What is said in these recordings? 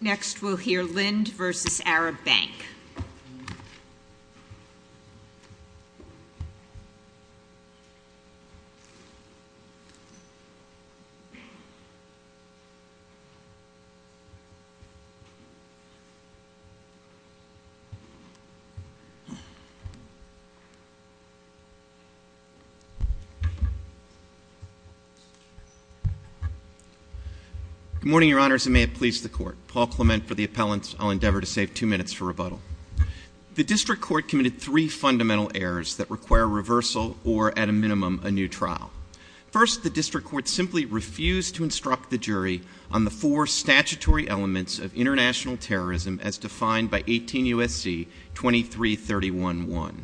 Next we'll hear Linde v. Arab Bank. Good morning, Your Honors, and may it please the Court. Paul Clement for the appellants. I'll endeavor to save two minutes for rebuttal. The District Court committed three fundamental errors that require reversal or, at a minimum, a new trial. First, the District Court simply refused to instruct the jury on the four statutory elements of international terrorism as defined by 18 U.S.C. 2331-1.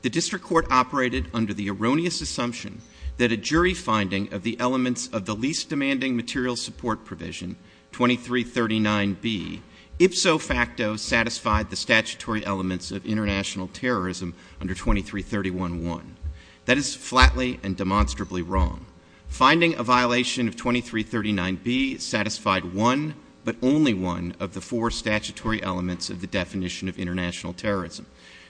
The District Court operated under the erroneous assumption that a jury finding of the elements of the least demanding material support provision, 2339-B, ipso facto satisfied the statutory elements of international terrorism under 2331-1. That is flatly and demonstrably wrong. Finding a violation of 2339-B satisfied one, but only one, of the four statutory elements of the definition of international terrorism.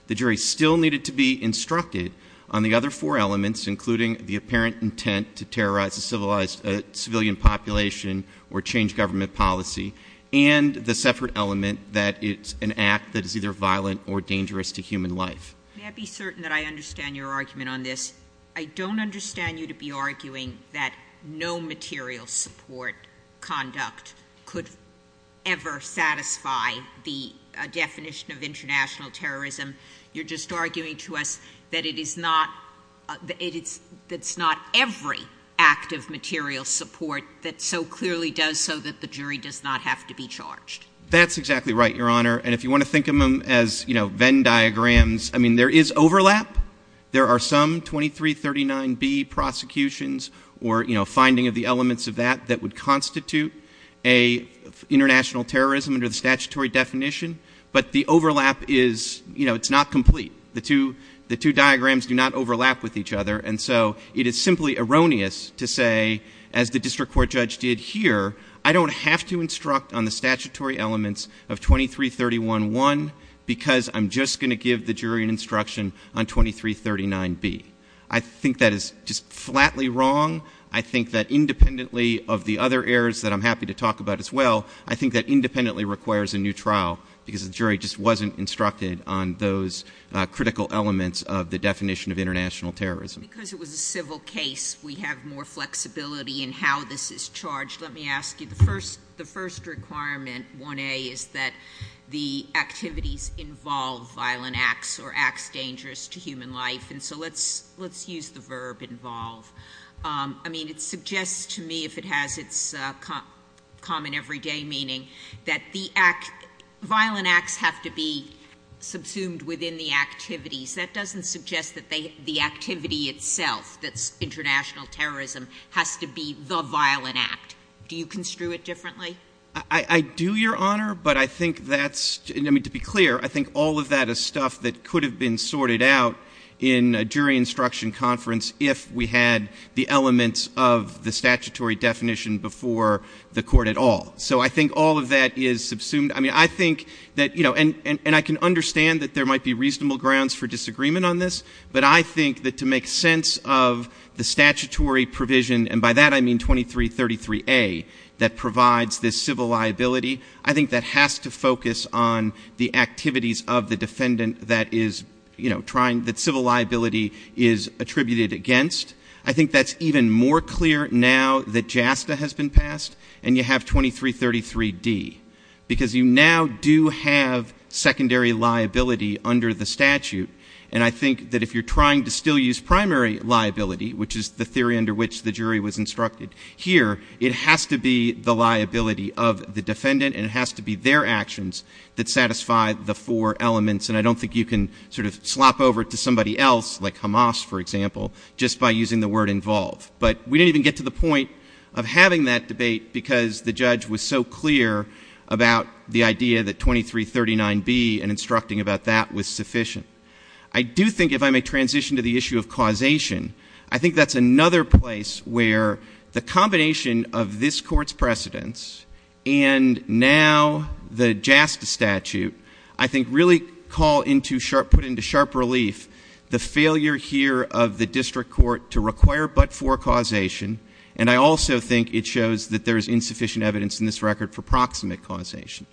The jury still needed to be instructed on the other four elements, including the apparent intent to terrorize a civilian population or change government policy, and the separate element that it's an act that is either violent or dangerous to human life. May I be certain that I understand your argument on this? I don't understand you to be arguing that no material support conduct could ever satisfy the definition of international terrorism. You're just arguing to us that it's not every act of material support that so clearly does so that the jury does not have to be charged. That's exactly right, Your Honor, and if you want to think of them as Venn diagrams, I mean, there is overlap. There are some 2339-B prosecutions or, you know, finding of the elements of that that would constitute an international terrorism under the statutory definition, but the overlap is, you know, it's not complete. The two diagrams do not overlap with each other, and so it is simply erroneous to say, as the district court judge did here, I don't have to instruct on the statutory elements of 2331-1 because I'm just going to give the jury an instruction on 2339-B. I think that is just flatly wrong. I think that independently of the other errors that I'm happy to talk about as well, I think that independently requires a new trial because the jury just wasn't instructed on those critical elements of the definition of international terrorism. Because it was a civil case, we have more flexibility in how this is charged. Let me ask you, the first requirement, 1A, is that the activities involve violent acts or acts dangerous to human life, and so let's use the verb involve. I mean, it suggests to me, if it has its common everyday meaning, that the violent acts have to be subsumed within the activities. That doesn't suggest that the activity itself, the international terrorism, has to be the violent act. Do you construe it differently? I do, Your Honor, but I think that's, I mean, to be clear, I think all of that is stuff that could have been sorted out in a jury instruction conference if we had the elements of the statutory definition before the court at all. So I think all of that is subsumed. I mean, I think that, you know, and I can understand that there might be reasonable grounds for disagreement on this, but I think that to make sense of the statutory provision, and by that I mean 2333A, that provides this civil liability, I think that has to focus on the activities of the defendant that is, you know, trying, that civil liability is attributed against. I think that's even more clear now that JASTA has been passed, and you have 2333D, because you now do have secondary liability under the statute, and I think that if you're trying to still use primary liability, which is the theory under which the jury was instructed here, it has to be the liability of the defendant, and it has to be their actions that satisfy the four elements, and I don't think you can sort of swap over to somebody else, like Hamas, for example, just by using the word involved. But we didn't even get to the point of having that debate because the judge was so clear about the idea that 2339B and instructing about that was sufficient. I do think if I may transition to the issue of causation, I think that's another place where the combination of this Court's precedence and now the JASTA statute I think really call into sharp, put into sharp relief the failure here of the district court to require but-for causation, and I also think it shows that there is insufficient evidence in this record for proximate causation.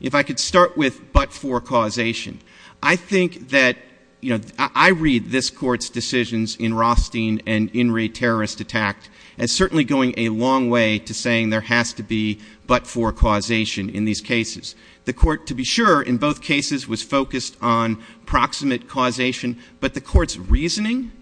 If I could start with but-for causation, I think that, you know, I read this Court's decisions in Rothstein and in re-terrorist attacks as certainly going a long way to saying there has to be but-for causation in these cases. The Court, to be sure, in both cases was focused on proximate causation, but the Court's reasoning,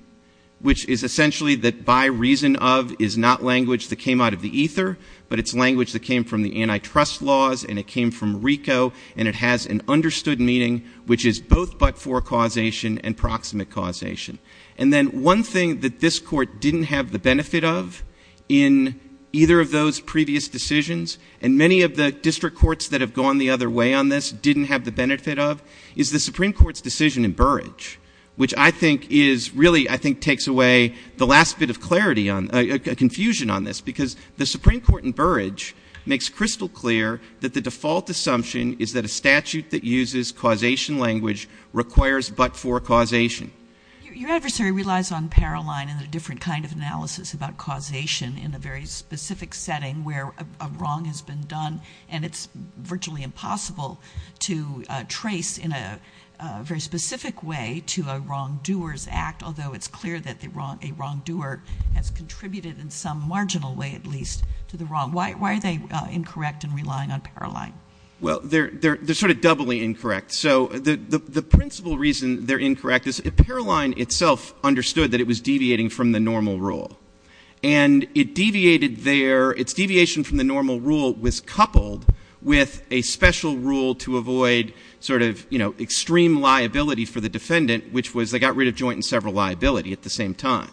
which is essentially that by reason of is not language that came out of the ether, but it's language that came from the antitrust laws and it came from RICO, and it has an understood meaning which is both but-for causation and proximate causation. And then one thing that this Court didn't have the benefit of in either of those previous decisions, and many of the district courts that have gone the other way on this didn't have the benefit of, is the Supreme Court's decision in Burrage, which I think is really I think takes away the last bit of clarity on, because the Supreme Court in Burrage makes crystal clear that the default assumption is that a statute that uses causation language requires but-for causation. Your adversary relies on Paroline and a different kind of analysis about causation in the very specific setting where a wrong has been done, and it's virtually impossible to trace in a very specific way to a wrongdoer's act, although it's clear that a wrongdoer has contributed in some marginal way at least to the wrong. Why are they incorrect in relying on Paroline? Well, they're sort of doubly incorrect. So the principal reason they're incorrect is Paroline itself understood that it was deviating from the normal rule, and its deviation from the normal rule was coupled with a special rule to avoid sort of extreme liability for the defendant, which was they got rid of joint and several liability at the same time.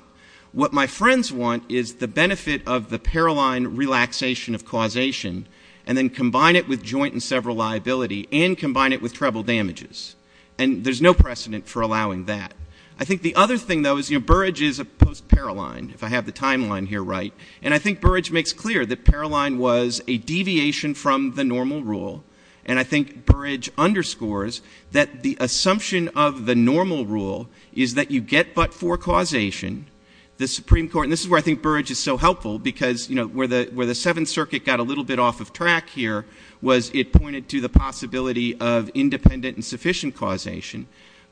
What my friends want is the benefit of the Paroline relaxation of causation and then combine it with joint and several liability and combine it with treble damages, and there's no precedent for allowing that. I think the other thing, though, is Burrage is a post-Paroline, if I have the timeline here right, and I think Burrage makes clear that Paroline was a deviation from the normal rule, and I think Burrage underscores that the assumption of the normal rule is that you get but-for causation. The Supreme Court, and this is where I think Burrage is so helpful because, you know, where the Seventh Circuit got a little bit off of track here was it pointed to the possibility of independent and sufficient causation.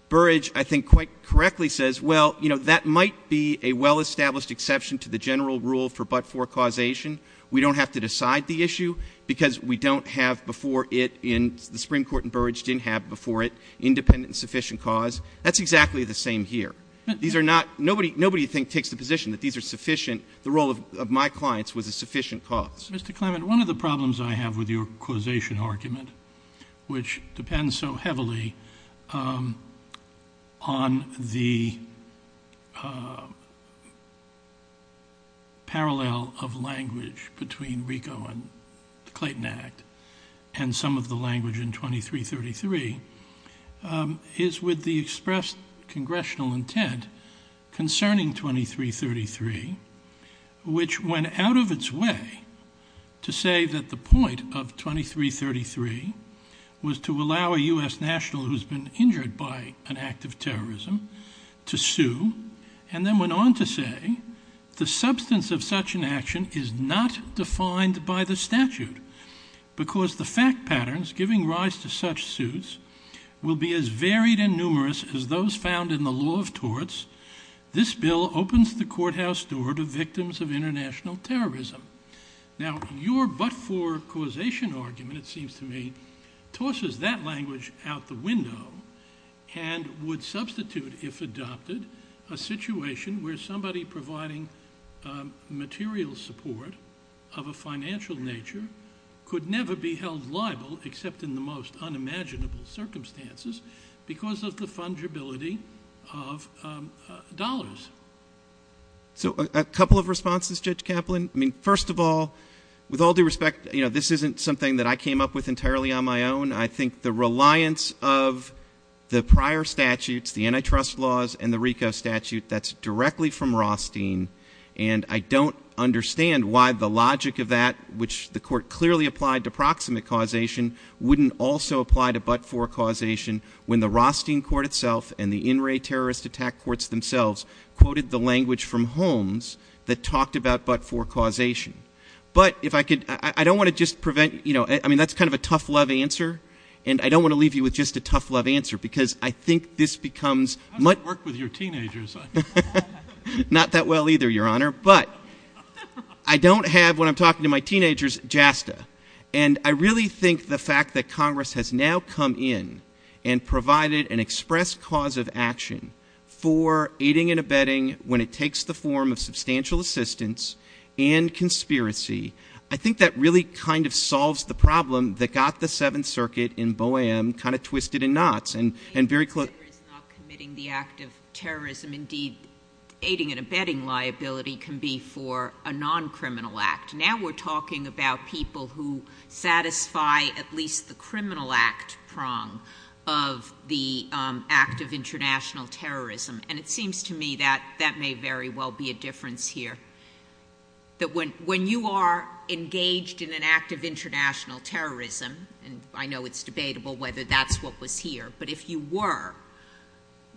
Burrage, I think, quite correctly says, well, you know, that might be a well-established exception to the general rule for but-for causation. We don't have to decide the issue because we don't have before it in the Supreme Court and Burrage didn't have before it independent and sufficient cause. That's exactly the same here. These are not — nobody, I think, takes the position that these are sufficient. The role of my clients was a sufficient cause. Mr. Clement, one of the problems I have with your causation argument, which depends so heavily on the parallel of language between RICO and the Clayton Act and some of the language in 2333 is with the expressed congressional intent concerning 2333, which went out of its way to say that the point of 2333 was to allow a U.S. national who's been injured by an act of terrorism to sue and then went on to say the substance of such an action is not defined by the statute because the fact patterns giving rise to such suits will be as varied and numerous as those found in the law of torts. This bill opens the courthouse door to victims of international terrorism. Now, your but-for causation argument, it seems to me, tosses that language out the window and would substitute, if adopted, a situation where somebody providing material support of a financial nature could never be held liable except in the most unimaginable circumstances because of the fungibility of dollars. So a couple of responses, Judge Kaplan. I mean, first of all, with all due respect, this isn't something that I came up with entirely on my own. I think the reliance of the prior statutes, the antitrust laws and the RICO statute, that's directly from Rothstein, and I don't understand why the logic of that, which the court clearly applied to proximate causation, wouldn't also apply to but-for causation when the Rothstein court itself and the in-ray terrorist attack courts themselves quoted the language from Holmes that talked about but-for causation. But if I could, I don't want to just prevent, you know, I mean, that's kind of a tough love answer, and I don't want to leave you with just a tough love answer because I think this becomes much... I don't either, Your Honor, but I don't have, when I'm talking to my teenagers, JASTA. And I really think the fact that Congress has now come in and provided an express cause of action for aiding and abetting when it takes the form of substantial assistance and conspiracy, I think that really kind of solves the problem that got the Seventh Circuit in Boham kind of twisted in knots. ...not committing the act of terrorism. Indeed, aiding and abetting liability can be for a non-criminal act. Now we're talking about people who satisfy at least the criminal act prong of the act of international terrorism. And it seems to me that that may very well be a difference here, that when you are engaged in an act of international terrorism, and I know it's debatable whether that's what was here, but if you were,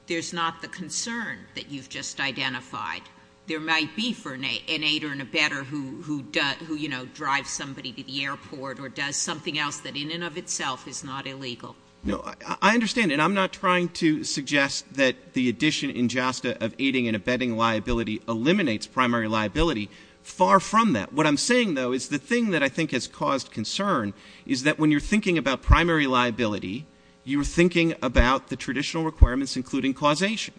there's not the concern that you've just identified. There might be an aider and abetter who, you know, drives somebody to the airport or does something else that in and of itself is not illegal. No, I understand, and I'm not trying to suggest that the addition in JASTA of aiding and abetting liability eliminates primary liability. Far from that. What I'm saying, though, is the thing that I think has caused concern is that when you're thinking about primary liability, you're thinking about the traditional requirements including causation.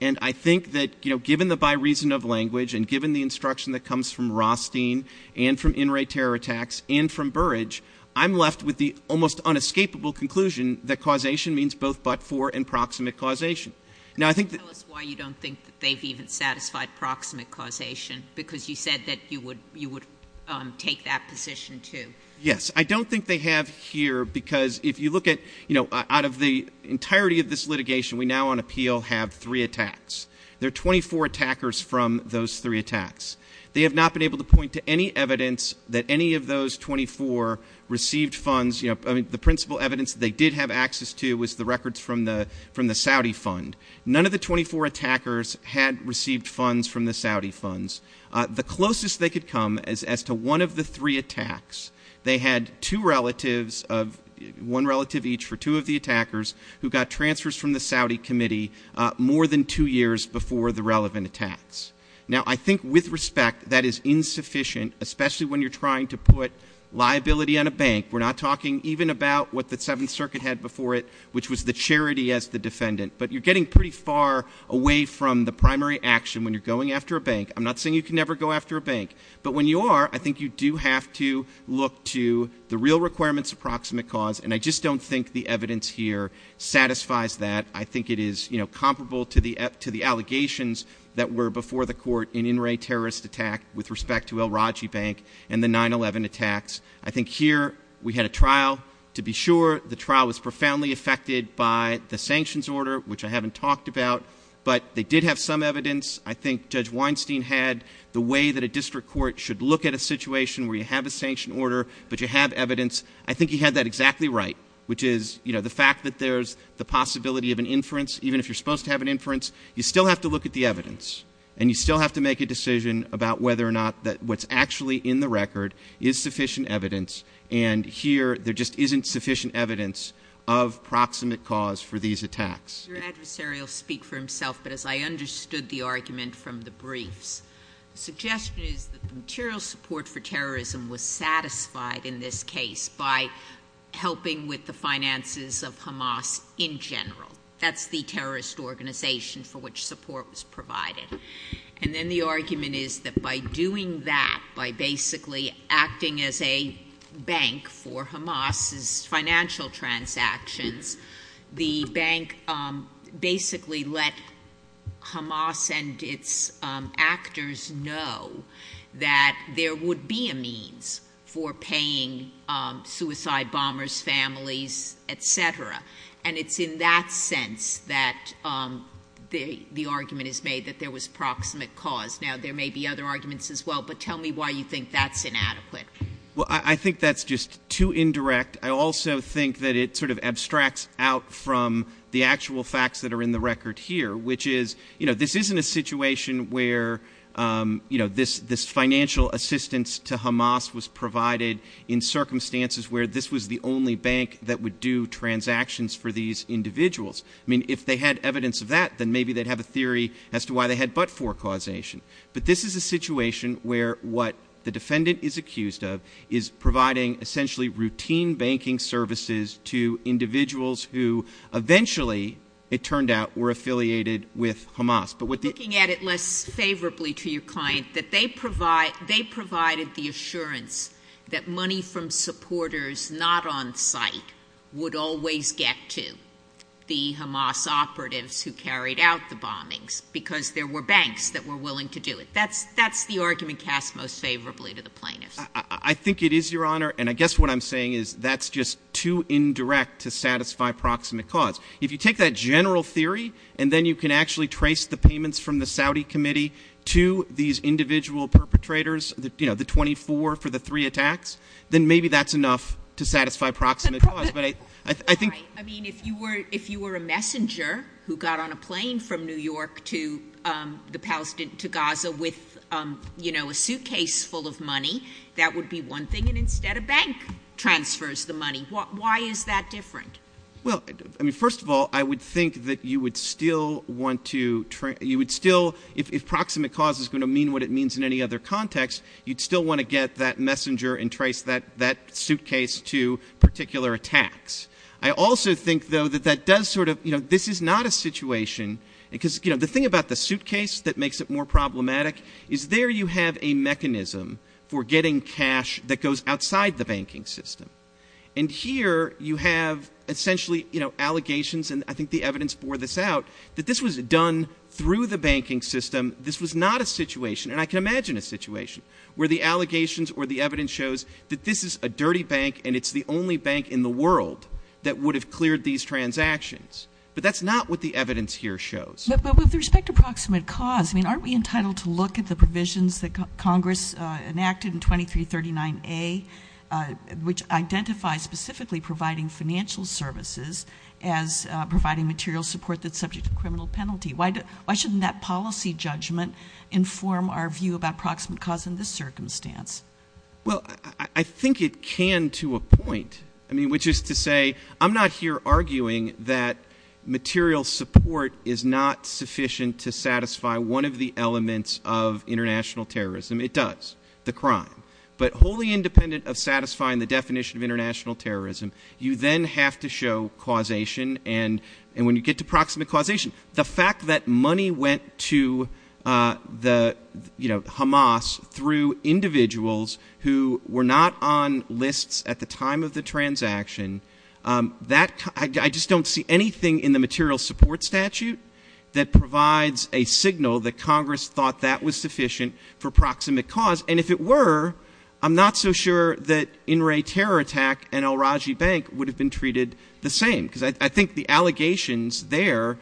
And I think that, you know, given the by reason of language and given the instruction that comes from Rothstein and from in-ray terror attacks and from Burrage, I'm left with the almost unescapable conclusion that causation means both but-for and proximate causation. Tell us why you don't think that they've even satisfied proximate causation, because you said that you would take that position, too. Yes, I don't think they have here, because if you look at, you know, out of the entirety of this litigation, we now on appeal have three attacks. There are 24 attackers from those three attacks. They have not been able to point to any evidence that any of those 24 received funds. You know, the principal evidence they did have access to was the records from the Saudi fund. None of the 24 attackers had received funds from the Saudi funds. The closest they could come as to one of the three attacks, they had two relatives of one relative each for two of the attackers who got transfers from the Saudi committee more than two years before the relevant attacks. Now, I think with respect, that is insufficient, especially when you're trying to put liability on a bank. We're not talking even about what the Seventh Circuit had before it, which was the charity as the defendant. But you're getting pretty far away from the primary action when you're going after a bank. I'm not saying you can never go after a bank. But when you are, I think you do have to look to the real requirements of proximate cause, and I just don't think the evidence here satisfies that. I think it is, you know, comparable to the allegations that were before the court in In re terrorist attack with respect to El Raji Bank and the 9-11 attacks. I think here we had a trial. To be sure, the trial was profoundly affected by the sanctions order, which I haven't talked about. But they did have some evidence. I think Judge Weinstein had the way that a district court should look at a situation where you have a sanction order, but you have evidence. I think he had that exactly right, which is, you know, the fact that there's the possibility of an inference, even if you're supposed to have an inference. You still have to look at the evidence, and you still have to make a decision about whether or not what's actually in the record is sufficient evidence, and here there just isn't sufficient evidence of proximate cause for these attacks. Your adversary will speak for himself, but as I understood the argument from the brief, the suggestion is that the material support for terrorism was satisfied in this case by helping with the finances of Hamas in general. That's the terrorist organization for which support was provided. And then the argument is that by doing that, by basically acting as a bank for Hamas' financial transactions, the bank basically let Hamas and its actors know that there would be a means for paying suicide bombers, families, et cetera. And it's in that sense that the argument is made that there was proximate cause. Now, there may be other arguments as well, but tell me why you think that's inadequate. Well, I think that's just too indirect. I also think that it sort of abstracts out from the actual facts that are in the record here, which is, you know, this isn't a situation where, you know, this financial assistance to Hamas was provided in circumstances where this was the only bank that would do transactions for these individuals. I mean, if they had evidence of that, then maybe they'd have a theory as to why they had but-for causation. But this is a situation where what the defendant is accused of is providing essentially routine banking services to individuals who eventually, it turned out, were affiliated with Hamas. Looking at it less favorably to your client, that they provided the assurance that money from supporters not on site would always get to the Hamas operatives who carried out the bombings because there were banks that were willing to do it. That's the argument cast most favorably to the plaintiff. I think it is, Your Honor, and I guess what I'm saying is that's just too indirect to satisfy proximate cause. If you take that general theory and then you can actually trace the payments from the Saudi committee to these individual perpetrators, you know, the 24 for the three attacks, then maybe that's enough to satisfy proximate cause. I mean, if you were a messenger who got on a plane from New York to Gaza with, you know, a suitcase full of money, that would be one thing, and instead a bank transfers the money. Why is that different? Well, I mean, first of all, I would think that you would still want to, you would still, if proximate cause is going to mean what it means in any other context, you'd still want to get that messenger and trace that suitcase to particular attacks. I also think, though, that that does sort of, you know, this is not a situation, because, you know, the thing about the suitcase that makes it more problematic is there you have a mechanism for getting cash that goes outside the banking system. And here you have essentially, you know, allegations, and I think the evidence bore this out, that this was done through the banking system. This was not a situation, and I can imagine a situation, where the allegations or the evidence shows that this is a dirty bank and it's the only bank in the world that would have cleared these transactions. But that's not what the evidence here shows. But with respect to proximate cause, I mean, aren't we entitled to look at the provisions that Congress enacted in 2339A, which identify specifically providing financial services as providing material support that's subject to criminal penalty? Why shouldn't that policy judgment inform our view about proximate cause in this circumstance? Well, I think it can to a point. I mean, which is to say, I'm not here arguing that material support is not sufficient to satisfy one of the elements of international terrorism. It does, the crime. But wholly independent of satisfying the definition of international terrorism, you then have to show causation. And when you get to proximate causation, the fact that money went to the, you know, Hamas through individuals who were not on lists at the time of the transaction, I just don't see anything in the material support statute that provides a signal that Congress thought that was sufficient for proximate cause. And if it were, I'm not so sure that In re Terror Attack and El Raji Bank would have been treated the same. Because I think the allegations there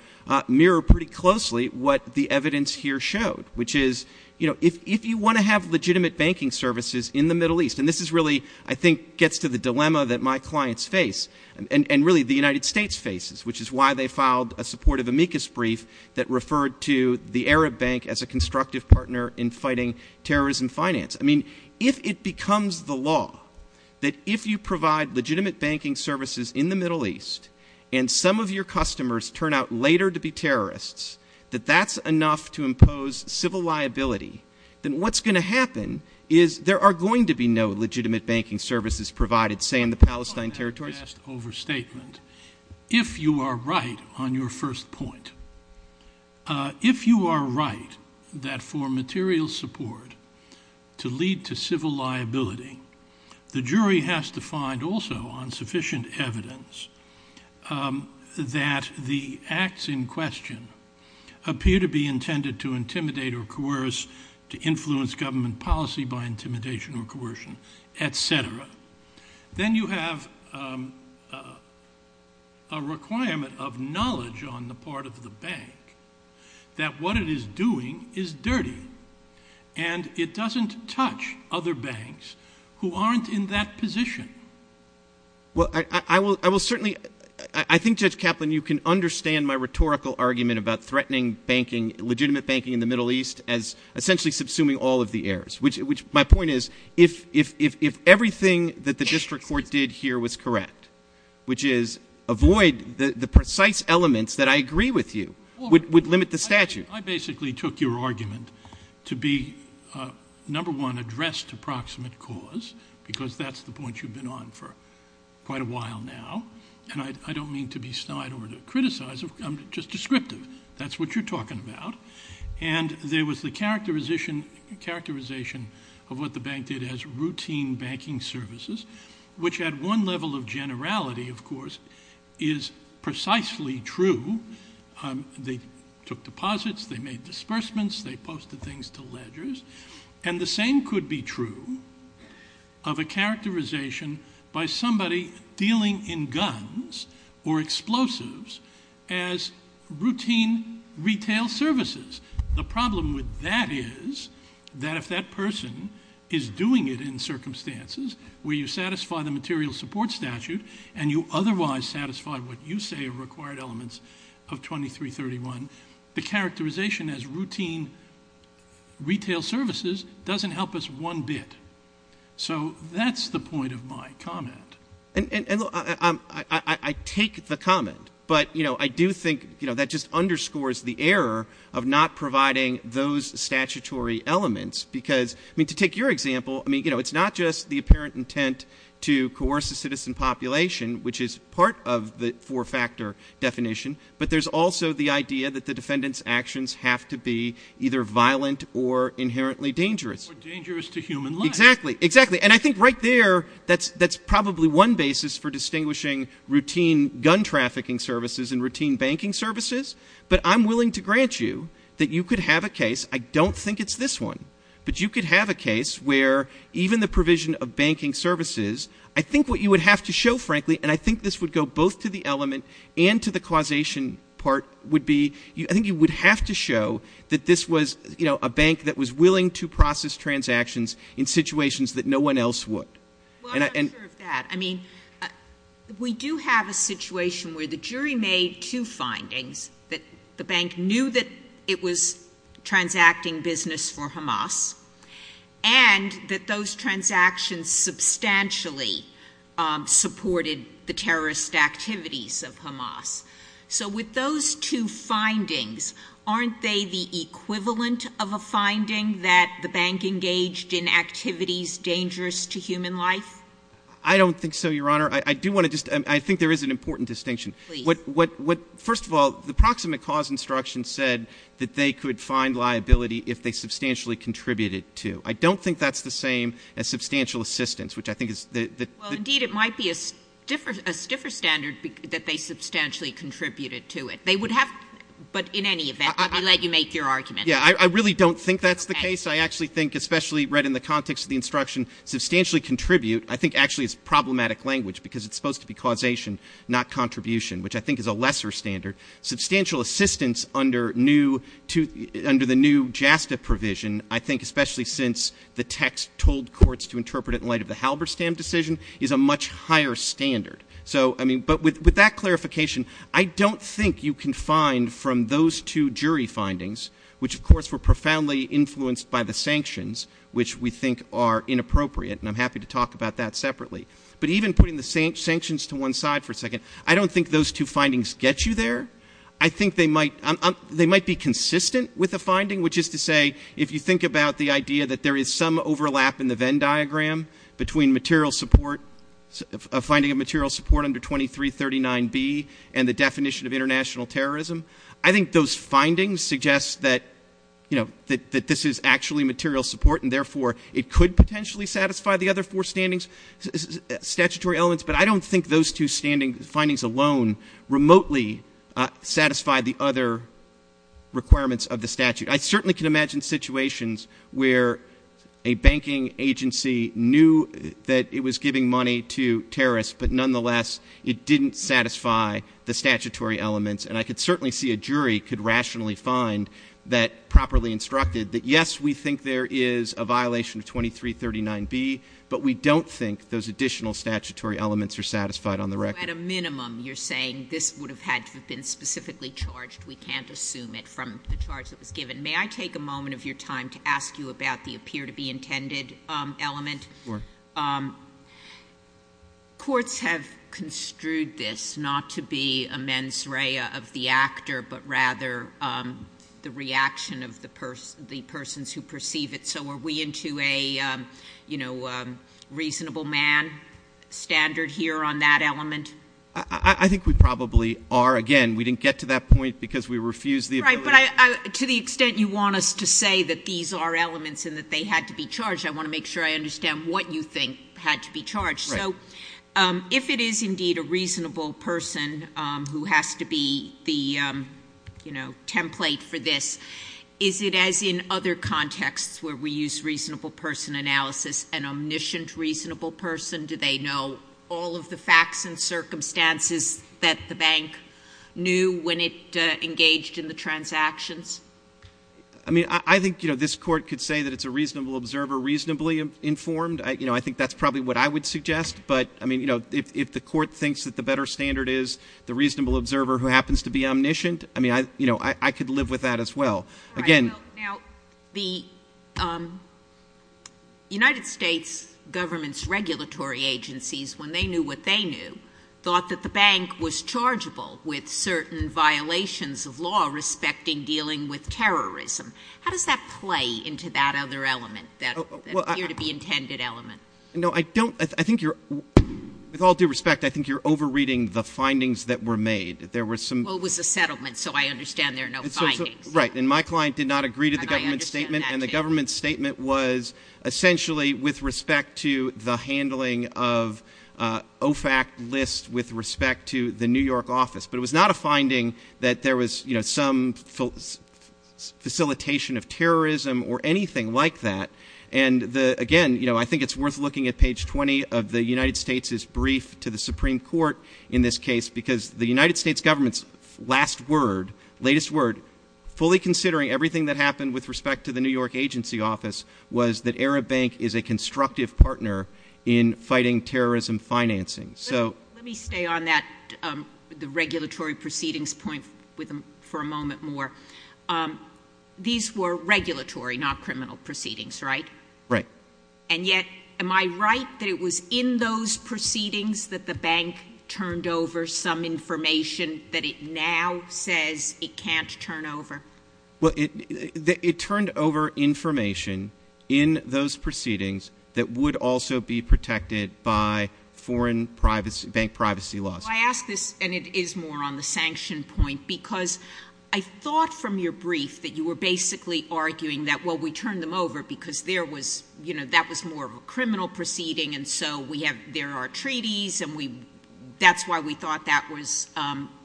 mirror pretty closely what the evidence here showed, which is, you know, if you want to have legitimate banking services in the Middle East, and this is really, I think, gets to the dilemma that my clients face, and really the United States faces, which is why they filed a supportive amicus brief that referred to the Arab Bank as a constructive partner in fighting terrorism finance. I mean, if it becomes the law that if you provide legitimate banking services in the Middle East, and some of your customers turn out later to be terrorists, that that's enough to impose civil liability, then what's going to happen is there are going to be no legitimate banking services provided, say, in the Palestine territories. If you are right on your first point, if you are right that for material support to lead to civil liability, the jury has to find also on sufficient evidence that the acts in question appear to be intended to intimidate or coerce, to influence government policy by intimidation or coercion, et cetera. Then you have a requirement of knowledge on the part of the bank that what it is doing is dirty, and it doesn't touch other banks who aren't in that position. Well, I will certainly, I think, Jeff Kaplan, you can understand my rhetorical argument about threatening banking, legitimate banking in the Middle East as essentially subsuming all of the heirs, which my point is if everything that the district court did here was correct, which is avoid the precise elements that I agree with you, would limit the statute. I basically took your argument to be, number one, addressed approximate cause because that's the point you've been on for quite a while now, and I don't mean to be snide or to criticize, I'm just descriptive. That's what you're talking about. And there was the characterization of what the bank did as routine banking services, which had one level of generality, of course, is precisely true. They took deposits, they made disbursements, they posted things to ledgers, and the same could be true of a characterization by somebody dealing in guns or explosives as routine retail services. The problem with that is that if that person is doing it in circumstances where you satisfy the material support statute and you otherwise satisfy what you say are required elements of 2331, the characterization as routine retail services doesn't help us one bit. So that's the point of my comment. And I take the comment, but I do think that just underscores the error of not providing those statutory elements because, I mean, to take your example, it's not just the apparent intent to coerce a citizen population, which is part of the four-factor definition, but there's also the idea that the defendant's actions have to be either violent or inherently dangerous. Or dangerous to human life. Exactly. And I think right there that's probably one basis for distinguishing routine gun trafficking services and routine banking services. But I'm willing to grant you that you could have a case. I don't think it's this one. But you could have a case where even the provision of banking services, I think what you would have to show, frankly, and I think this would go both to the element and to the causation part, would be I think you would have to show that this was a bank that was willing to process transactions in situations that no one else would. Well, I'm not sure of that. I mean, we do have a situation where the jury made two findings, that the bank knew that it was transacting business for Hamas and that those transactions substantially supported the terrorist activities of Hamas. So with those two findings, aren't they the equivalent of a finding that the bank engaged in activities dangerous to human life? I don't think so, Your Honor. I do want to just — I think there is an important distinction. First of all, the proximate cause instruction said that they could find liability if they substantially contributed to. I don't think that's the same as substantial assistance, which I think is — Well, indeed, it might be a stiffer standard that they substantially contributed to it. They would have — but in any event, I'll let you make your argument. Yeah, I really don't think that's the case. I actually think, especially read in the context of the instruction, substantially contribute, I think actually is problematic language because it's supposed to be causation, not contribution, which I think is a lesser standard. Substantial assistance under the new JASTA provision, I think especially since the text told courts to interpret it is a much higher standard. But with that clarification, I don't think you can find from those two jury findings, which of course were profoundly influenced by the sanctions, which we think are inappropriate, and I'm happy to talk about that separately. But even putting the sanctions to one side for a second, I don't think those two findings get you there. I think they might be consistent with the finding, which is to say, if you think about the idea that there is some overlap in the Venn diagram between finding of material support under 2339B and the definition of international terrorism, I think those findings suggest that this is actually material support and therefore it could potentially satisfy the other four statutory elements, but I don't think those two findings alone remotely satisfy the other requirements of the statute. I certainly can imagine situations where a banking agency knew that it was giving money to terrorists, but nonetheless it didn't satisfy the statutory elements, and I could certainly see a jury could rationally find that properly instructed that yes, we think there is a violation of 2339B, but we don't think those additional statutory elements are satisfied on the record. At a minimum, you're saying this would have had to have been specifically charged. We can't assume it from the charge that was given. May I take a moment of your time to ask you about the appear-to-be-intended element? Sure. Courts have construed this not to be a mens rea of the actor, but rather the reaction of the persons who perceive it, so are we into a reasonable man standard here on that element? I think we probably are. Again, we didn't get to that point because we refused the evaluation. Right, but to the extent you want us to say that these are elements and that they had to be charged, I want to make sure I understand what you think had to be charged. So if it is indeed a reasonable person who has to be the template for this, is it as in other contexts where we use reasonable person analysis, an omniscient reasonable person? Do they know all of the facts and circumstances that the bank knew when it engaged in the transactions? I think this court could say that it's a reasonable observer reasonably informed. I think that's probably what I would suggest, but if the court thinks that the better standard is the reasonable observer who happens to be omniscient, I could live with that as well. The United States government's regulatory agencies, when they knew what they knew, thought that the bank was chargeable with certain violations of law respecting dealing with terrorism. How does that play into that other element, that appear to be intended element? With all due respect, I think you're over-reading the findings that were made. Well, it was a settlement, so I understand there are no findings. Right, and my client did not agree to the government's statement, and the government's statement was essentially with respect to the handling of OFAC lists with respect to the New York office. But it was not a finding that there was some facilitation of terrorism or anything like that. Again, I think it's worth looking at page 20 of the United States' brief to the Supreme Court in this case, because the United States government's last word, latest word, fully considering everything that happened with respect to the New York agency office, was that Arab Bank is a constructive partner in fighting terrorism financing. Let me stay on that regulatory proceedings point for a moment more. These were regulatory, not criminal proceedings, right? Right. And yet, am I right that it was in those proceedings that the bank turned over some information that it now says it can't turn over? Well, it turned over information in those proceedings that would also be protected by foreign bank privacy laws. I ask this, and it is more on the sanction point, because I thought from your brief that you were basically arguing that, well, we turned them over because that was more of a criminal proceeding, and so there are treaties, and that's why we thought that was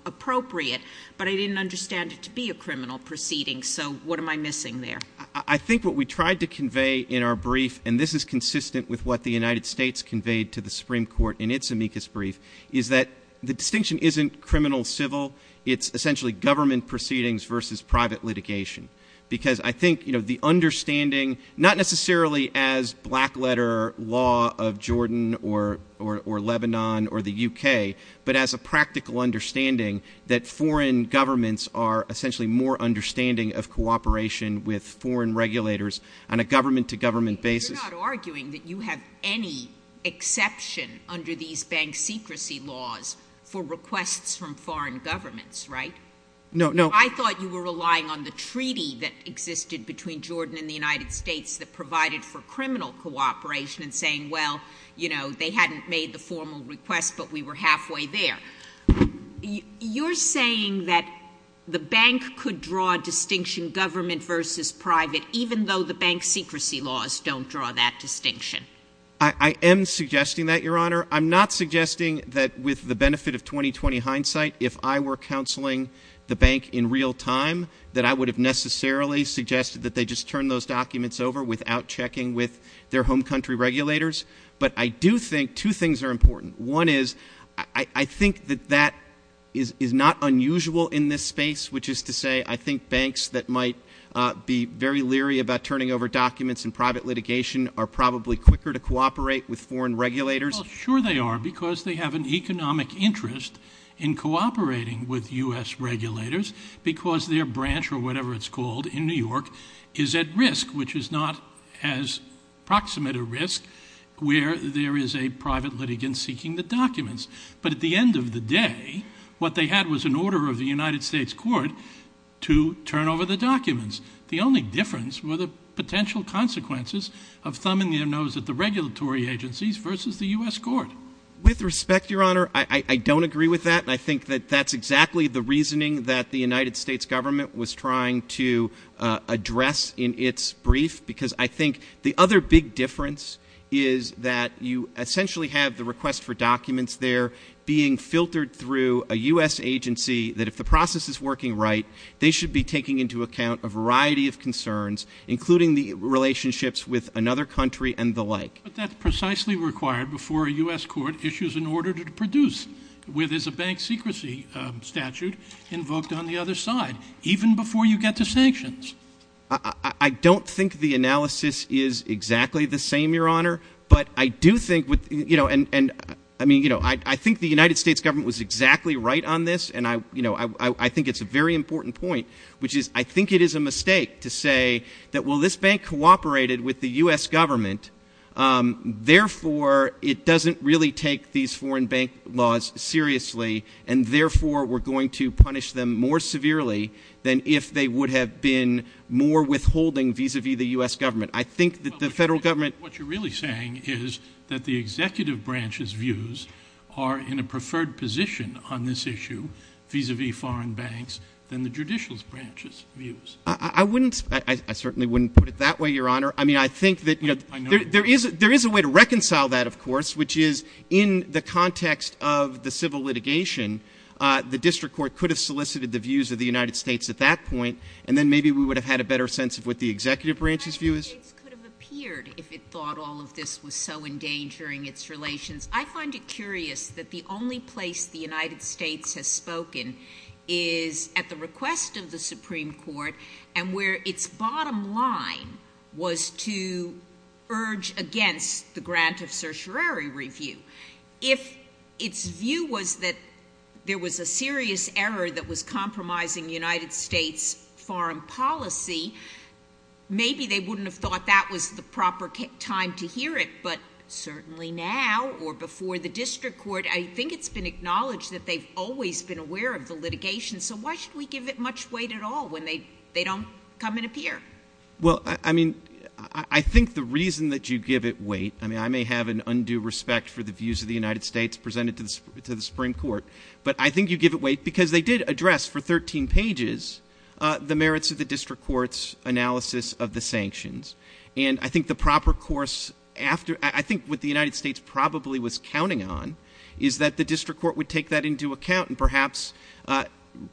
appropriate. But I didn't understand it to be a criminal proceeding, so what am I missing there? I think what we tried to convey in our brief, and this is consistent with what the United States conveyed to the Supreme Court in its amicus brief, is that the distinction isn't criminal-civil. It's essentially government proceedings versus private litigation, because I think the understanding, not necessarily as black-letter law of Jordan or Lebanon or the U.K., but as a practical understanding that foreign governments are essentially more understanding of cooperation with foreign regulators on a government-to-government basis. You're not arguing that you have any exception under these bank secrecy laws for requests from foreign governments, right? No. I thought you were relying on the treaty that existed between Jordan and the United States that provided for criminal cooperation and saying, well, you know, they hadn't made the formal request, but we were halfway there. You're saying that the bank could draw a distinction government versus private, even though the bank secrecy laws don't draw that distinction. I am suggesting that, Your Honor. I'm not suggesting that with the benefit of 20-20 hindsight, if I were counseling the bank in real time, that I would have necessarily suggested that they just turn those documents over without checking with their home country regulators. But I do think two things are important. One is I think that that is not unusual in this space, which is to say I think banks that might be very leery about turning over documents in private litigation are probably quicker to cooperate with foreign regulators. Well, sure they are because they have an economic interest in cooperating with U.S. regulators because their branch or whatever it's called in New York is at risk, which is not as proximate a risk where there is a private litigant seeking the documents. But at the end of the day, what they had was an order of the United States court to turn over the documents. The only difference were the potential consequences of thumbing their nose at the regulatory agencies versus the U.S. court. With respect, Your Honor, I don't agree with that. I think that that's exactly the reasoning that the United States government was trying to address in its brief because I think the other big difference is that you essentially have the request for documents there being filtered through a U.S. agency that if the process is working right, they should be taking into account a variety of concerns, including the relationships with another country and the like. But that's precisely required before a U.S. court issues an order to produce where there's a bank secrecy statute invoked on the other side, even before you get to sanctions. I don't think the analysis is exactly the same, Your Honor, but I do think the United States government was exactly right on this, and I think it's a very important point, which is I think it is a mistake to say that while this bank cooperated with the U.S. government, therefore it doesn't really take these foreign bank laws seriously, and therefore we're going to punish them more severely than if they would have been more withholding vis-a-vis the U.S. government. I think that the federal government... What you're really saying is that the executive branch's views are in a preferred position on this issue vis-a-vis foreign banks than the judicial branch's views. I certainly wouldn't put it that way, Your Honor. I think that there is a way to reconcile that, of course, which is in the context of the civil litigation, the district court could have solicited the views of the United States at that point, and then maybe we would have had a better sense of what the executive branch's view is. It could have appeared if it thought all of this was so endangering its relations. I find it curious that the only place the United States has spoken is at the request of the Supreme Court and where its bottom line was to urge against the grant of certiorari review. If its view was that there was a serious error that was compromising United States foreign policy, maybe they wouldn't have thought that was the proper time to hear it, but certainly now or before the district court, I think it's been acknowledged that they've always been aware of the litigation, so why should we give it much weight at all when they don't come and appear? Well, I mean, I think the reason that you give it weight, I mean, I may have an undue respect for the views of the United States presented to the Supreme Court, but I think you give it weight because they did address for 13 pages the merits of the district court's analysis of the sanctions, and I think the proper course after, I think what the United States probably was counting on is that the district court would take that into account and perhaps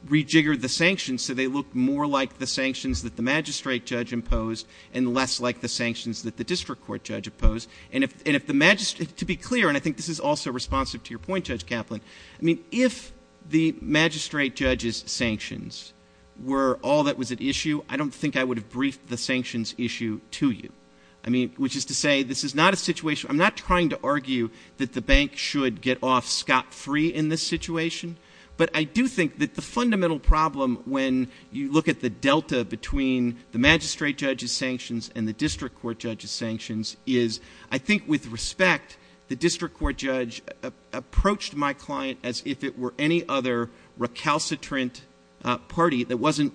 rejigger the sanctions so they look more like the sanctions that the magistrate judge imposed and less like the sanctions that the district court judge imposed, and if the magistrate, to be clear, and I think this is also responsive to your point, Judge Kaplan, I mean, if the magistrate judge's sanctions were all that was at issue, I don't think I would have briefed the sanctions issue to you, I mean, which is to say this is not a situation, I'm not trying to argue that the bank should get off scot-free in this situation, but I do think that the fundamental problem when you look at the delta between the magistrate judge's sanctions and the district court judge's sanctions is, I think with respect, the district court judge approached my client as if it were any other recalcitrant party that wasn't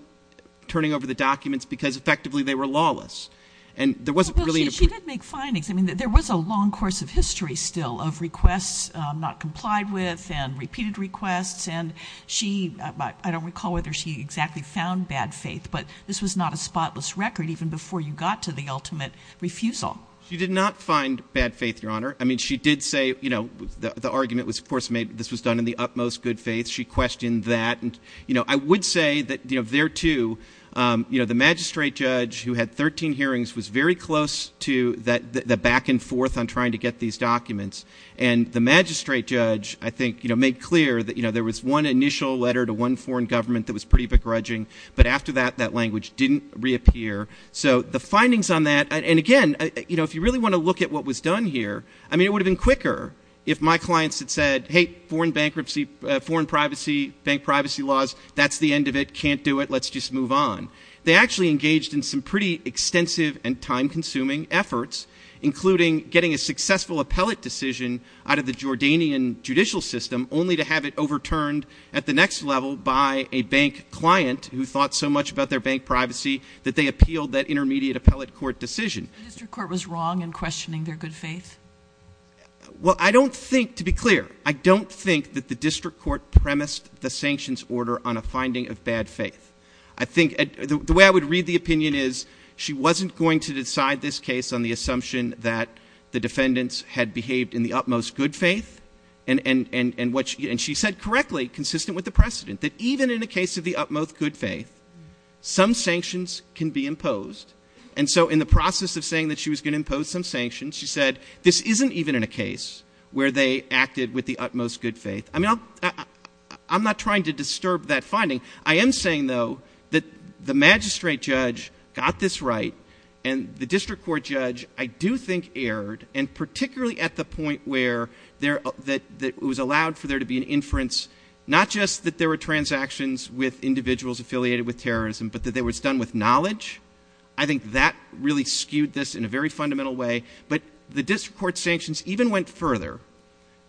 turning over the documents because effectively they were lawless, and there wasn't really... She did make findings, I mean, there was a long course of history still of requests not complied with and repeated requests, and she, I don't recall whether she exactly found bad faith, but this was not a spotless record even before you got to the ultimate refusal. She did not find bad faith, Your Honor, I mean, she did say, you know, the argument was, of course, this was done in the utmost good faith, she questioned that, and, you know, I would say that there too, you know, the magistrate judge who had 13 hearings was very close to the back and forth on trying to get these documents, and the magistrate judge, I think, you know, made clear that, you know, there was one initial letter to one foreign government that was pretty begrudging, but after that, that language didn't reappear. So the findings on that, and again, you know, if you really want to look at what was done here, I mean, it would have been quicker if my clients had said, hey, foreign bankruptcy, foreign privacy, bank privacy laws, that's the end of it, can't do it, let's just move on. They actually engaged in some pretty extensive and time-consuming efforts, including getting a successful appellate decision out of the Jordanian judicial system, only to have it overturned at the next level by a bank client who thought so much about their bank privacy that they appealed that intermediate appellate court decision. The court was wrong in questioning their good faith? Well, I don't think, to be clear, I don't think that the district court premised the sanctions order on a finding of bad faith. I think the way I would read the opinion is she wasn't going to decide this case on the assumption that the defendants had behaved in the utmost good faith, and she said correctly, consistent with the precedent, that even in the case of the utmost good faith, some sanctions can be imposed. And so in the process of saying that she was going to impose some sanctions, she said this isn't even in a case where they acted with the utmost good faith. I mean, I'm not trying to disturb that finding. I am saying, though, that the magistrate judge got this right, and the district court judge, I do think, erred, and particularly at the point where it was allowed for there to be an inference, not just that there were transactions with individuals affiliated with terrorism, but that it was done with knowledge. I think that really skewed this in a very fundamental way. But the district court sanctions even went further,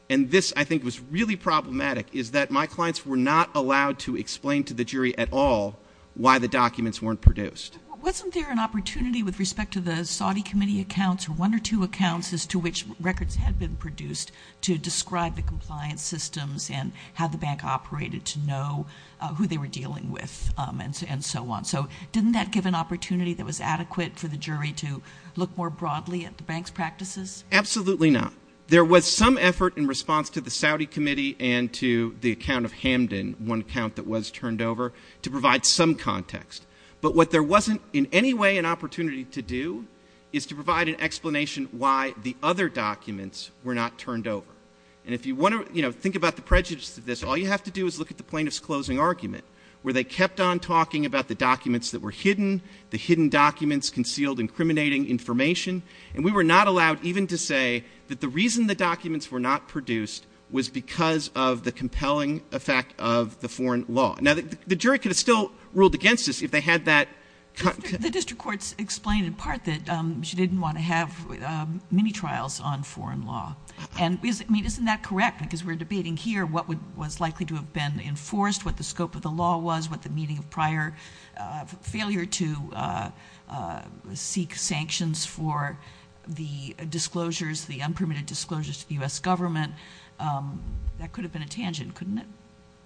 and this, I think, was really problematic, is that my clients were not allowed to explain to the jury at all why the documents weren't produced. Well, wasn't there an opportunity with respect to the Saudi committee accounts or one or two accounts as to which records had been produced to describe the compliance systems and how the bank operated to know who they were dealing with and so on? So didn't that give an opportunity that was adequate for the jury to look more broadly at the bank's practices? Absolutely not. There was some effort in response to the Saudi committee and to the account of Hamdan, one account that was turned over, to provide some context. But what there wasn't in any way an opportunity to do is to provide an explanation why the other documents were not turned over. And if you want to think about the prejudice to this, all you have to do is look at the plaintiff's closing argument, where they kept on talking about the documents that were hidden, the hidden documents concealed incriminating information, and we were not allowed even to say that the reason the documents were not produced was because of the compelling effect of the foreign law. Now, the jury could have still ruled against this if they had that... The district courts explained in part that she didn't want to have mini-trials on foreign law. And, I mean, isn't that correct, because we're debating here what was likely to have been enforced, what the scope of the law was, what the meaning of prior failure to seek sanctions for the disclosures, the unpermitted disclosures to the U.S. government? That could have been a tangent, couldn't it?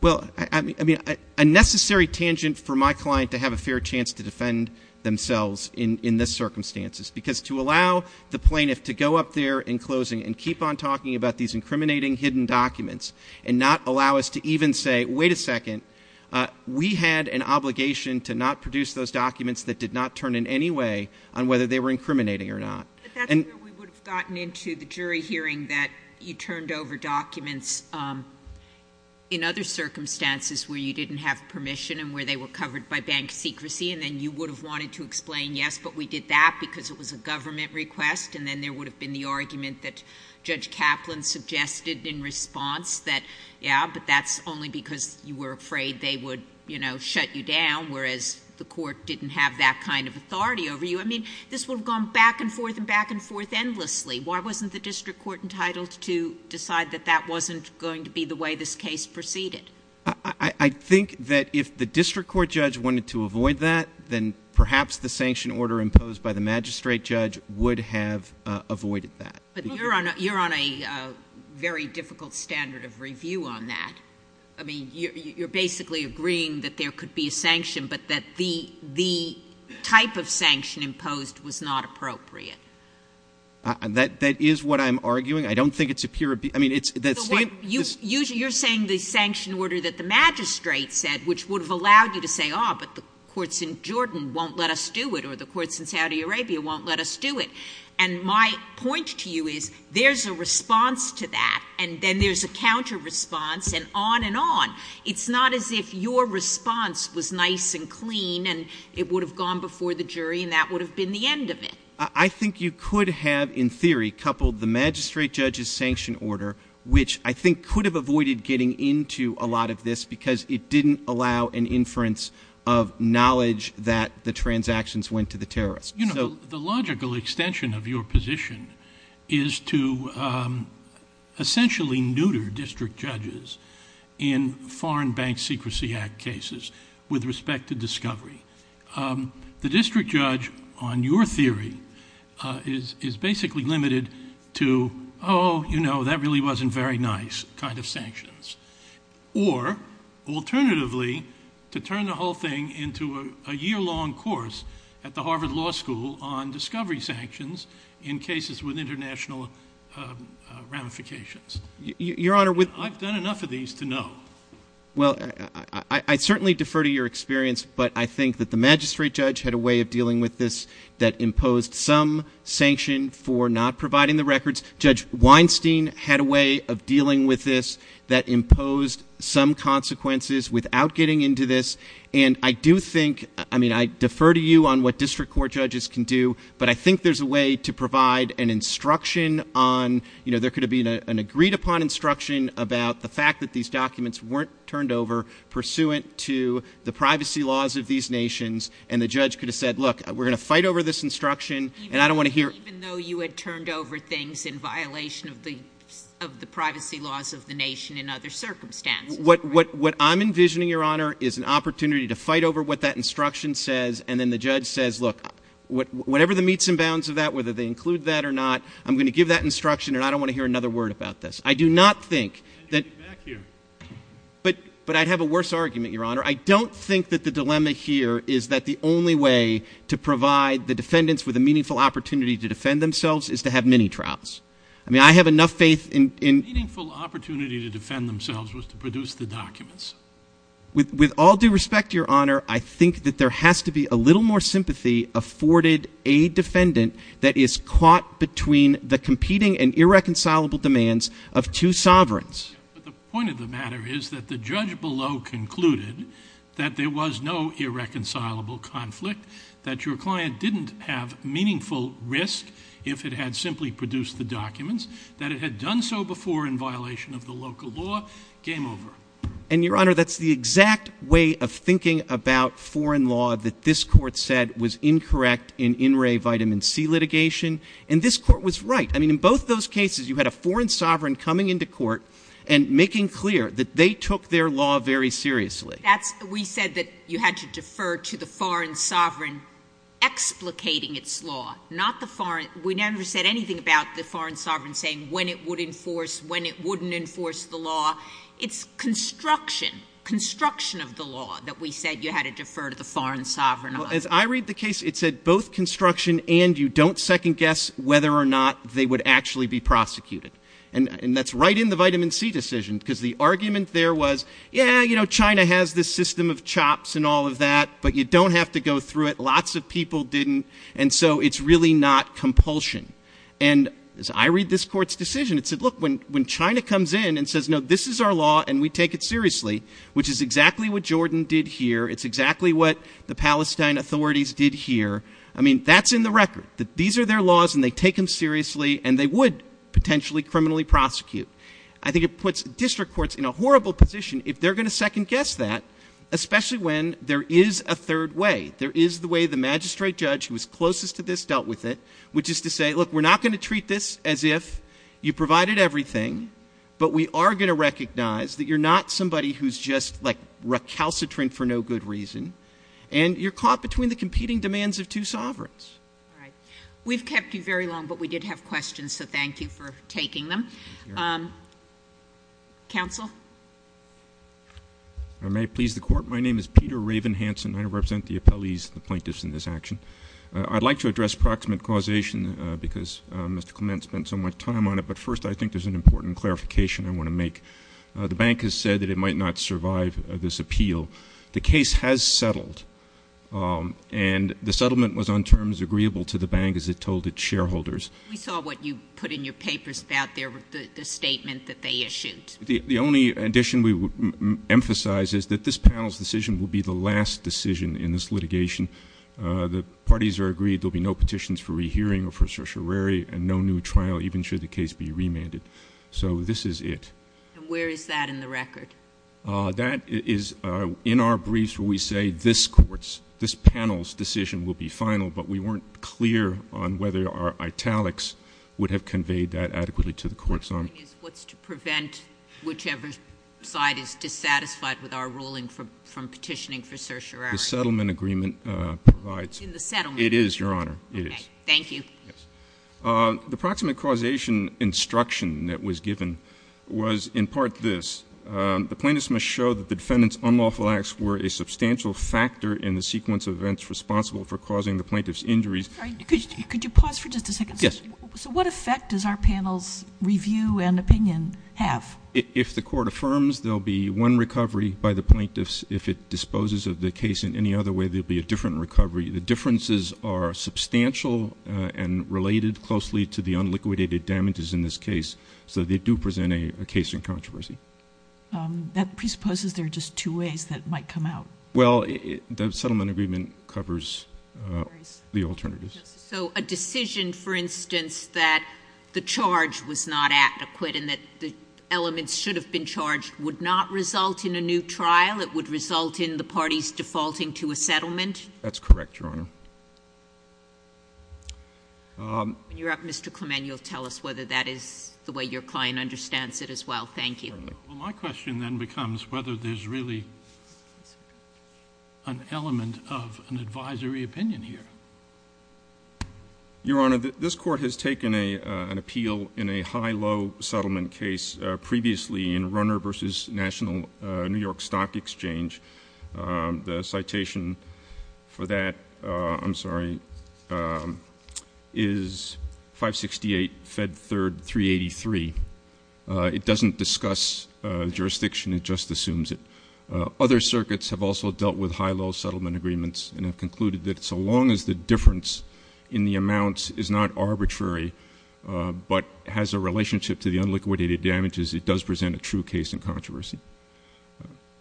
Well, I mean, a necessary tangent for my client to have a fair chance to defend themselves in this circumstance is because to allow the plaintiff to go up there in closing and keep on talking about these incriminating hidden documents and not allow us to even say, wait a second, we had an obligation to not produce those documents that did not turn in any way on whether they were incriminating or not. We would have gotten into the jury hearing that you turned over documents in other circumstances where you didn't have permission and where they were covered by bank secrecy, and then you would have wanted to explain, yes, but we did that because it was a government request, and then there would have been the argument that Judge Kaplan suggested in response that, yes, but that's only because you were afraid they would, you know, shut you down, whereas the court didn't have that kind of authority over you. I mean, this would have gone back and forth and back and forth endlessly. Why wasn't the district court entitled to decide that that wasn't going to be the way this case proceeded? I think that if the district court judge wanted to avoid that, then perhaps the sanction order imposed by the magistrate judge would have avoided that. But you're on a very difficult standard of review on that. I mean, you're basically agreeing that there could be a sanction, but that the type of sanction imposed was not appropriate. That is what I'm arguing. I don't think it's a pure abuse. You're saying the sanction order that the magistrate said, which would have allowed you to say, oh, but the courts in Jordan won't let us do it or the courts in Saudi Arabia won't let us do it. And my point to you is there's a response to that, and then there's a counter response and on and on. It's not as if your response was nice and clean and it would have gone before the jury and that would have been the end of it. I think you could have, in theory, coupled the magistrate judge's sanction order, which I think could have avoided getting into a lot of this because it didn't allow an inference of knowledge that the transactions went to the terrorists. You know, the logical extension of your position is to essentially neuter district judges in foreign bank secrecy act cases with respect to discovery. The district judge, on your theory, is basically limited to, oh, you know, that really wasn't very nice kind of sanctions. Or, alternatively, to turn the whole thing into a year-long course at the Harvard Law School on discovery sanctions in cases with international ramifications. I've done enough of these to know. Well, I certainly defer to your experience, but I think that the magistrate judge had a way of dealing with this that imposed some sanction for not providing the records. Judge Weinstein had a way of dealing with this that imposed some consequences without getting into this. And I do think, I mean, I defer to you on what district court judges can do, but I think there's a way to provide an instruction on, you know, there could have been an agreed-upon instruction about the fact that these documents weren't turned over pursuant to the privacy laws of these nations. And the judge could have said, look, we're going to fight over this instruction, and I don't want to hear... Even though you had turned over things in violation of the privacy laws of the nation in other circumstances. What I'm envisioning, Your Honor, is an opportunity to fight over what that instruction says, and then the judge says, look, whatever the meets and bounds of that, whether they include that or not, I'm going to give that instruction, and I don't want to hear another word about this. I do not think that... But I'd have a worse argument, Your Honor. I don't think that the dilemma here is that the only way to provide the defendants with a meaningful opportunity to defend themselves is to have mini-trials. I mean, I have enough faith in... A meaningful opportunity to defend themselves was to produce the documents. With all due respect, Your Honor, I think that there has to be a little more sympathy afforded a defendant that is caught between the competing and irreconcilable demands of two sovereigns. But the point of the matter is that the judge below concluded that there was no irreconcilable conflict, that your client didn't have meaningful risk if it had simply produced the documents, that it had done so before in violation of the local law. Game over. And, Your Honor, that's the exact way of thinking about foreign law that this Court said was incorrect in in re vitamin C litigation. And this Court was right. I mean, in both those cases, you had a foreign sovereign coming into court and making clear that they took their law very seriously. We said that you had to defer to the foreign sovereign explicating its law, not the foreign... We never said anything about the foreign sovereign saying when it would enforce, when it wouldn't enforce the law. It's construction, construction of the law that we said you had to defer to the foreign sovereign. As I read the case, it said both construction and you don't second guess whether or not they would actually be prosecuted. And that's right in the vitamin C decision because the argument there was, yeah, you know, China has this system of chops and all of that, but you don't have to go through it. Lots of people didn't. And so it's really not compulsion. And as I read this Court's decision, it said, look, when China comes in and says, no, this is our law and we take it seriously, which is exactly what Jordan did here. It's exactly what the Palestine authorities did here. I mean, that's in the record, that these are their laws and they take them seriously and they would potentially criminally prosecute. I think it puts district courts in a horrible position if they're going to second guess that, especially when there is a third way. There is the way the magistrate judge who was closest to this dealt with it, which is to say, look, we're not going to treat this as if you provided everything, but we are going to recognize that you're not somebody who's just recalcitrant for no good reason and you're caught between the competing demands of two sovereigns. All right. We've kept you very long, but we did have questions, so thank you for taking them. Counsel? If I may please the Court, my name is Peter Raven Hanson. I represent the appellees and the plaintiffs in this action. I'd like to address proximate causation because Mr. Clement spent so much time on it, but first I think there's an important clarification I want to make. The bank has said that it might not survive this appeal. The case has settled, and the settlement was on terms agreeable to the bank as it told its shareholders. We saw what you put in your papers, the statement that they issued. The only addition we would emphasize is that this panel's decision will be the last decision in this litigation. The parties are agreed there will be no petitions for rehearing or for certiorari and no new trial, even should the case be remanded. So this is it. And where is that in the record? That is in our briefs where we say this panel's decision will be final, but we weren't clear on whether our italics would have conveyed that adequately to the courts on it. What's to prevent whichever side is dissatisfied with our ruling from petitioning for certiorari? The settlement agreement provides. To the settlement? It is, Your Honor. It is. Thank you. The proximate causation instruction that was given was in part this. The plaintiffs must show that the defendant's unlawful acts were a substantial factor in the sequence of events responsible for causing the plaintiff's injuries. Could you pause for just a second? Yes. So what effect does our panel's review and opinion have? If the court affirms, there will be one recovery by the plaintiffs. If it disposes of the case in any other way, there will be a different recovery. The differences are substantial and related closely to the unliquidated damages in this case, so they do present a case in controversy. That presupposes there are just two ways that might come out. Well, the settlement agreement covers the alternatives. So a decision, for instance, that the charge was not adequate and that the elements should have been charged would not result in a new trial. It would result in the parties defaulting to a settlement? That's correct, Your Honor. Mr. Clement, you'll tell us whether that is the way your client understands it as well. Thank you. Well, my question then becomes whether there's really an element of an advisory opinion here. Your Honor, this Court has taken an appeal in a high-low settlement case previously in Runner v. National New York Stock Exchange. The citation for that is 568 Fed 3rd 383. It doesn't discuss jurisdiction. It just assumes it. Other circuits have also dealt with high-low settlement agreements and have concluded that so long as the difference in the amounts is not arbitrary but has a relationship to the unliquidated damages, it does present a true case in controversy.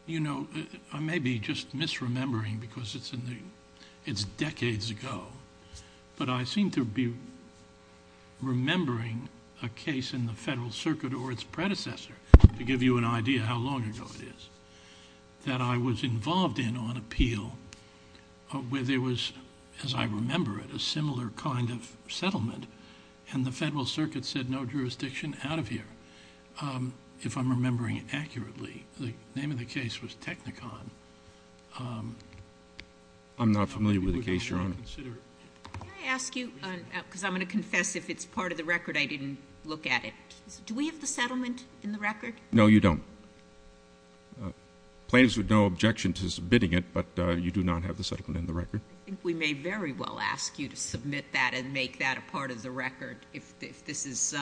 You know, I may be just misremembering because it's decades ago, but I seem to be remembering a case in the Federal Circuit or its predecessor, to give you an idea how long ago it is, that I was involved in on appeal where there was, as I remember it, a similar kind of settlement, and the Federal Circuit said no jurisdiction out of here. If I'm remembering accurately, the name of the case was Technicon. I'm not familiar with the case, Your Honor. Can I ask you, because I'm going to confess if it's part of the record, I didn't look at it. Do we have the settlement in the record? No, you don't. Plays with no objection to submitting it, but you do not have the settlement in the record. We may very well ask you to submit that and make that a part of the record if this is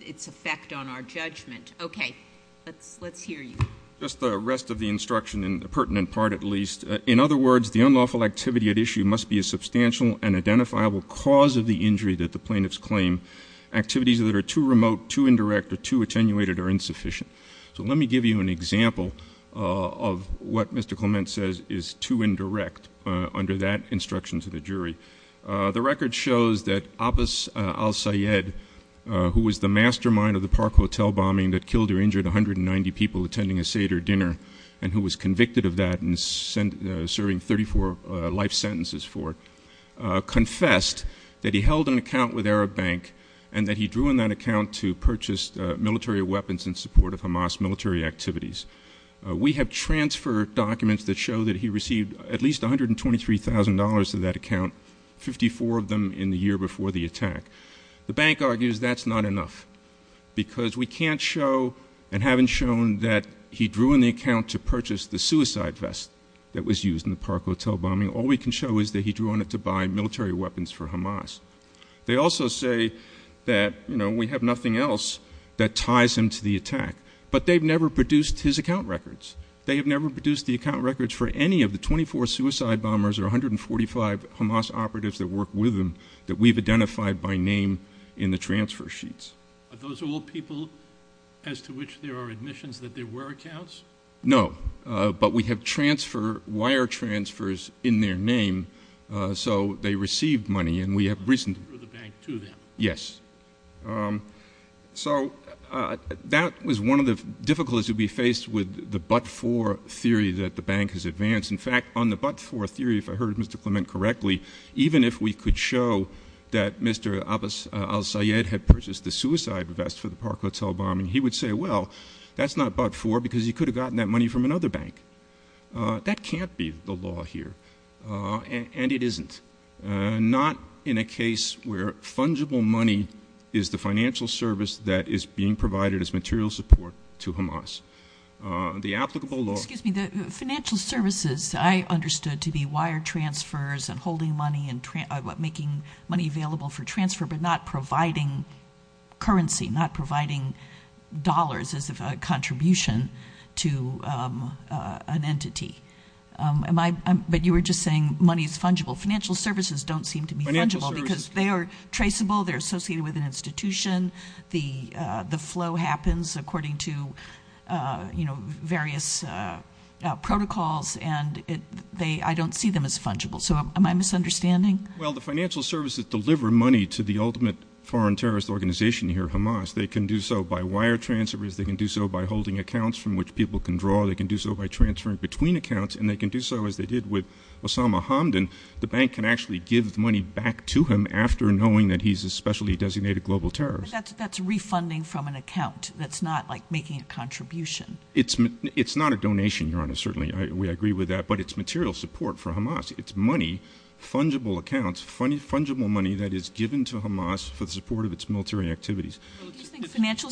its effect on our judgment. Okay, let's hear you. Just the rest of the instruction, the pertinent part at least. In other words, the unlawful activity at issue must be a substantial and identifiable cause of the injury that the plaintiff's claimed. Activities that are too remote, too indirect, or too attenuated are insufficient. So let me give you an example of what Mr. Clement says is too indirect under that instruction to the jury. The record shows that Abbas Al-Sayed, who was the mastermind of the Park Hotel bombing that killed or injured 190 people attending a Seder dinner, and who was convicted of that and serving 34 life sentences for it, confessed that he held an account with Arab Bank and that he drew on that account to purchase military weapons in support of Hamas military activities. We have transfer documents that show that he received at least $123,000 of that account, 54 of them in the year before the attack. The bank argues that's not enough because we can't show, and haven't shown that he drew on the account to purchase the suicide vest that was used in the Park Hotel bombing. All we can show is that he drew on it to buy military weapons for Hamas. They also say that, you know, we have nothing else that ties him to the attack. But they've never produced his account records. They have never produced the account records for any of the 24 suicide bombers or 145 Hamas operatives that worked with him that we've identified by name in the transfer sheets. But those are all people as to which there are admissions that there were accounts? No, but we have transfer, wire transfers in their name, so they received money, and we have recently. For the bank, too, then? Yes. So that was one of the difficulties we faced with the but-for theory that the bank has advanced. In fact, on the but-for theory, if I heard Mr. Clement correctly, even if we could show that Mr. al-Sayed had purchased the suicide vest for the Park Hotel bombing, he would say, well, that's not but-for because he could have gotten that money from another bank. That can't be the law here, and it isn't, not in a case where fungible money is the financial service that is being provided as material support to Hamas. The applicable law. Excuse me, the financial services I understood to be wire transfers and holding money and making money available for transfer, but not providing currency, not providing dollars as a contribution to an entity. But you were just saying money is fungible. Financial services don't seem to be fungible because they are traceable. They're associated with an institution. The flow happens according to various protocols, and I don't see them as fungible. So am I misunderstanding? Well, the financial services deliver money to the ultimate foreign terrorist organization here, Hamas. They can do so by wire transfers. They can do so by holding accounts from which people can draw. They can do so by transferring between accounts, and they can do so as they did with Osama Hamdan. The bank can actually give money back to him after knowing that he's a specially designated global terrorist. But that's refunding from an account. That's not like making a contribution. It's not a donation, Your Honor. Certainly we agree with that, but it's material support for Hamas. It's money, fungible accounts, fungible money that is given to Hamas for the support of its military activities. Do you think financial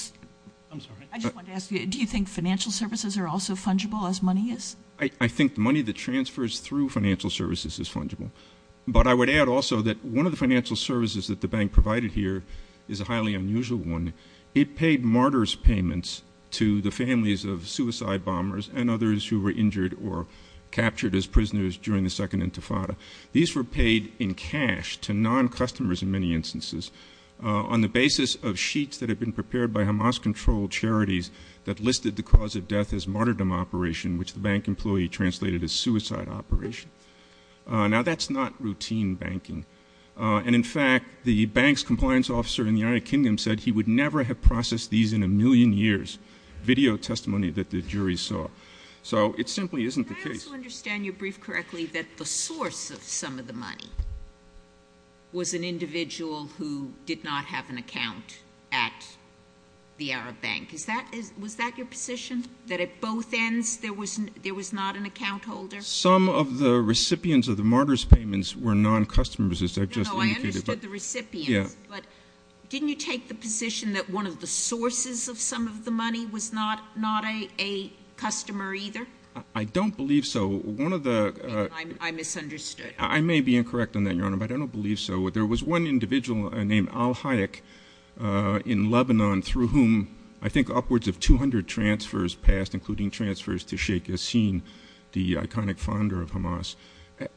services are also fungible as money is? I think the money that transfers through financial services is fungible. But I would add also that one of the financial services that the bank provided here is a highly unusual one. It paid martyrs' payments to the families of suicide bombers and others who were injured or captured as prisoners during the Second Intifada. These were paid in cash to non-customers in many instances on the basis of sheets that had been prepared by Hamas-controlled charities that listed the cause of death as martyrdom operation, which the bank employee translated as suicide operation. Now, that's not routine banking. And, in fact, the bank's compliance officer in the United Kingdom said he would never have processed these in a million years, video testimony that the jury saw. So it simply isn't the case. I want to understand you briefly correctly that the source of some of the money was an individual who did not have an account at the Arab Bank. Was that your position, that at both ends there was not an account holder? Some of the recipients of the martyrs' payments were non-customers, as I just indicated. No, I understood the recipient. But didn't you take the position that one of the sources of some of the money was not a customer either? I don't believe so. I misunderstood. I may be incorrect on that, Your Honor, but I don't believe so. There was one individual named Al Hayek in Lebanon through whom I think upwards of 200 transfers passed, including transfers to Sheikh Hasim, the iconic founder of Hamas.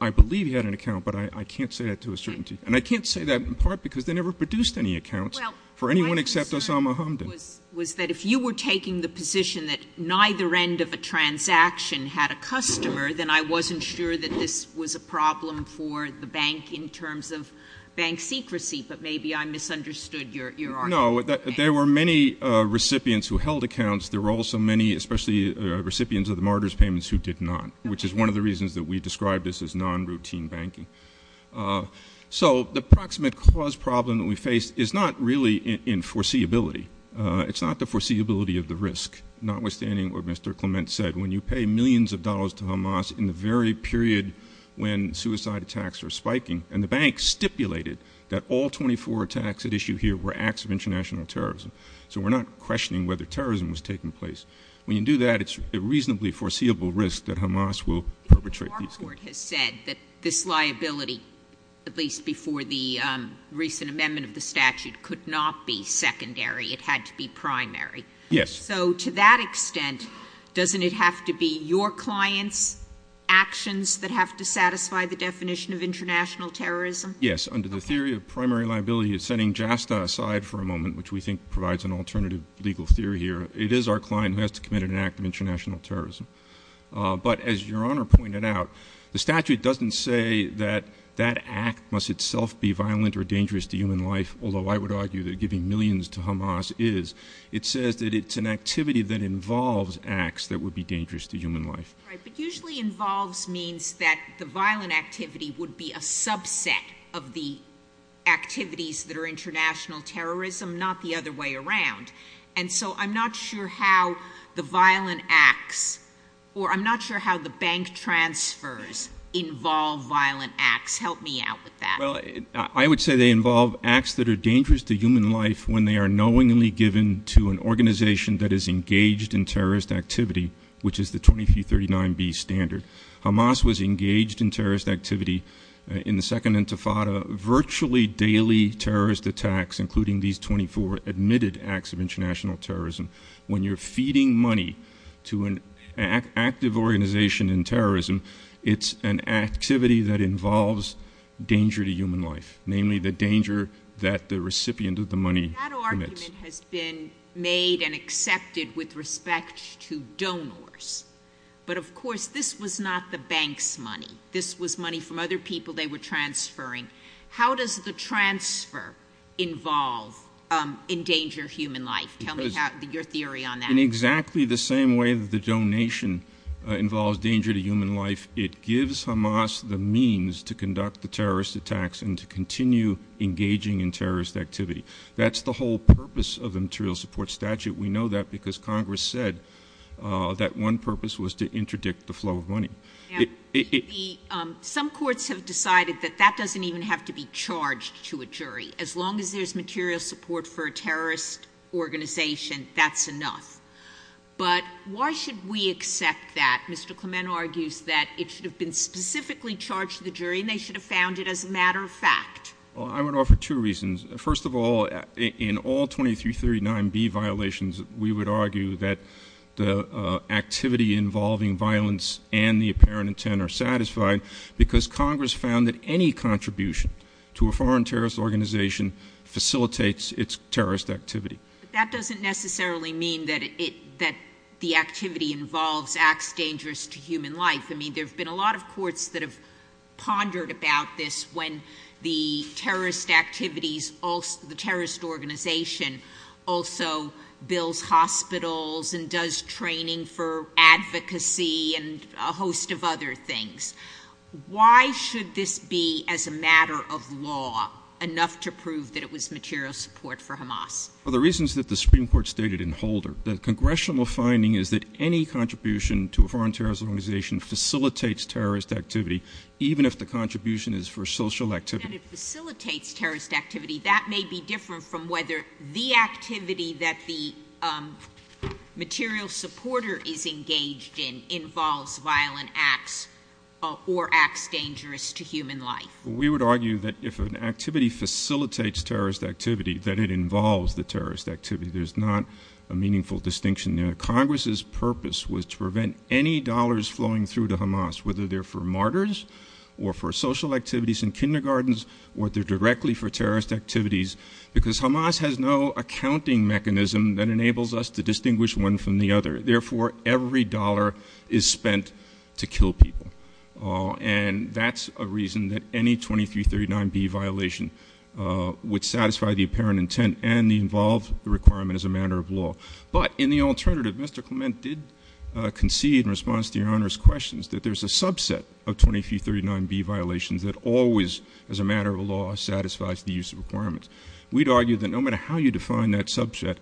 I believe he had an account, but I can't say that to a certainty. And I can't say that in part because they never produced any accounts for anyone except Osama Hamdan. Was that if you were taking the position that neither end of a transaction had a customer, then I wasn't sure that this was a problem for the bank in terms of bank secrecy, but maybe I misunderstood your argument. No, there were many recipients who held accounts. There were also many, especially recipients of the martyrs' payments, who did not, which is one of the reasons that we describe this as non-routine banking. So the proximate cause problem that we face is not really in foreseeability. It's not the foreseeability of the risk, notwithstanding what Mr. Clement said. When you pay millions of dollars to Hamas in the very period when suicide attacks are spiking, and the bank stipulated that all 24 attacks at issue here were acts of international terrorism, so we're not questioning whether terrorism was taking place. When you do that, it's a reasonably foreseeable risk that Hamas will perpetrate these attacks. Our court has said that this liability, at least before the recent amendment of the statute, could not be secondary. It had to be primary. Yes. So to that extent, doesn't it have to be your clients' actions that have to satisfy the definition of international terrorism? Yes. Under the theory of primary liability, setting JASTA aside for a moment, which we think provides an alternative legal theory here, it is our client who has to commit an act of international terrorism. But as Your Honor pointed out, the statute doesn't say that that act must itself be violent or dangerous to human life, although I would argue that giving millions to Hamas is. It says that it's an activity that involves acts that would be dangerous to human life. Right, but usually involves means that the violent activity would be a subset of the activities that are international terrorism, not the other way around. And so I'm not sure how the violent acts, or I'm not sure how the bank transfers involve violent acts. Help me out with that. Well, I would say they involve acts that are dangerous to human life when they are knowingly given to an organization that is engaged in terrorist activity, which is the 2339B standard. Hamas was engaged in terrorist activity in the Second Intifada, virtually daily terrorist attacks, including these 24 admitted acts of international terrorism. When you're feeding money to an active organization in terrorism, it's an activity that involves danger to human life, namely the danger that the recipient of the money commits. That argument has been made and accepted with respect to donors, but of course this was not the bank's money. This was money from other people they were transferring. How does the transfer involve endanger human life? Tell me your theory on that. In exactly the same way that the donation involves danger to human life, it gives Hamas the means to conduct the terrorist attacks and to continue engaging in terrorist activity. That's the whole purpose of the material support statute. We know that because Congress said that one purpose was to interdict the flow of money. Some courts have decided that that doesn't even have to be charged to a jury. As long as there's material support for a terrorist organization, that's enough. But why should we accept that? Mr. Clement argues that it should have been specifically charged to the jury and they should have found it as a matter of fact. I would offer two reasons. First of all, in all 2339B violations, we would argue that the activity involving violence and the apparent intent are satisfied because Congress found that any contribution to a foreign terrorist organization facilitates its terrorist activity. That doesn't necessarily mean that the activity involves acts dangerous to human life. I mean there have been a lot of courts that have pondered about this when the terrorist activities, the terrorist organization also builds hospitals and does training for advocacy and a host of other things. Why should this be as a matter of law enough to prove that it was material support for Hamas? For the reasons that the Supreme Court stated in Holder, the Congressional finding is that any contribution to a foreign terrorist organization facilitates terrorist activity, even if the contribution is for social activity. And if it facilitates terrorist activity, that may be different from whether the activity that the material supporter is engaged in involves violent acts or acts dangerous to human life. We would argue that if an activity facilitates terrorist activity, that it involves the terrorist activity. There's not a meaningful distinction there. Congress's purpose was to prevent any dollars flowing through to Hamas, whether they're for martyrs or for social activities in kindergartens or they're directly for terrorist activities, because Hamas has no accounting mechanism that enables us to distinguish one from the other. Therefore, every dollar is spent to kill people. And that's a reason that any 2339B violation would satisfy the apparent intent and involve the requirement as a matter of law. But in the alternative, Mr. Clement did concede in response to Your Honor's questions that there's a subset of 2339B violations that always, as a matter of law, satisfies the use of requirements. We'd argue that no matter how you define that subset,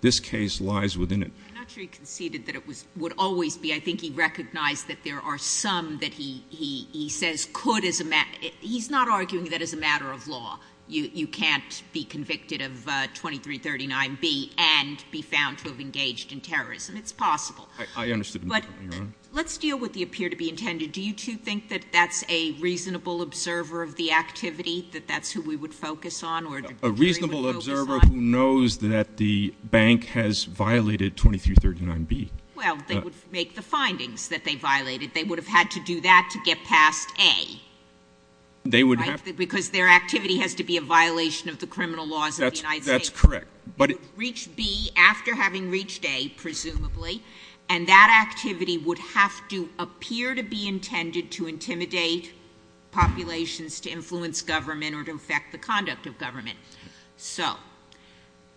this case lies within it. I'm not sure he conceded that it would always be. I think he recognized that there are some that he says could as a matter of law. He's not arguing that as a matter of law, you can't be convicted of 2339B and be found to have engaged in terrorism. It's possible. But let's deal with the appear to be intended. Do you two think that that's a reasonable observer of the activity, that that's who we would focus on? A reasonable observer who knows that the bank has violated 2339B. Well, they would make the findings that they violated. They would have had to do that to get past A. Because their activity has to be a violation of the criminal laws of the United States. That's correct. It reached B after having reached A, presumably, and that activity would have to appear to be intended to intimidate populations, to influence government, or to affect the conduct of government. So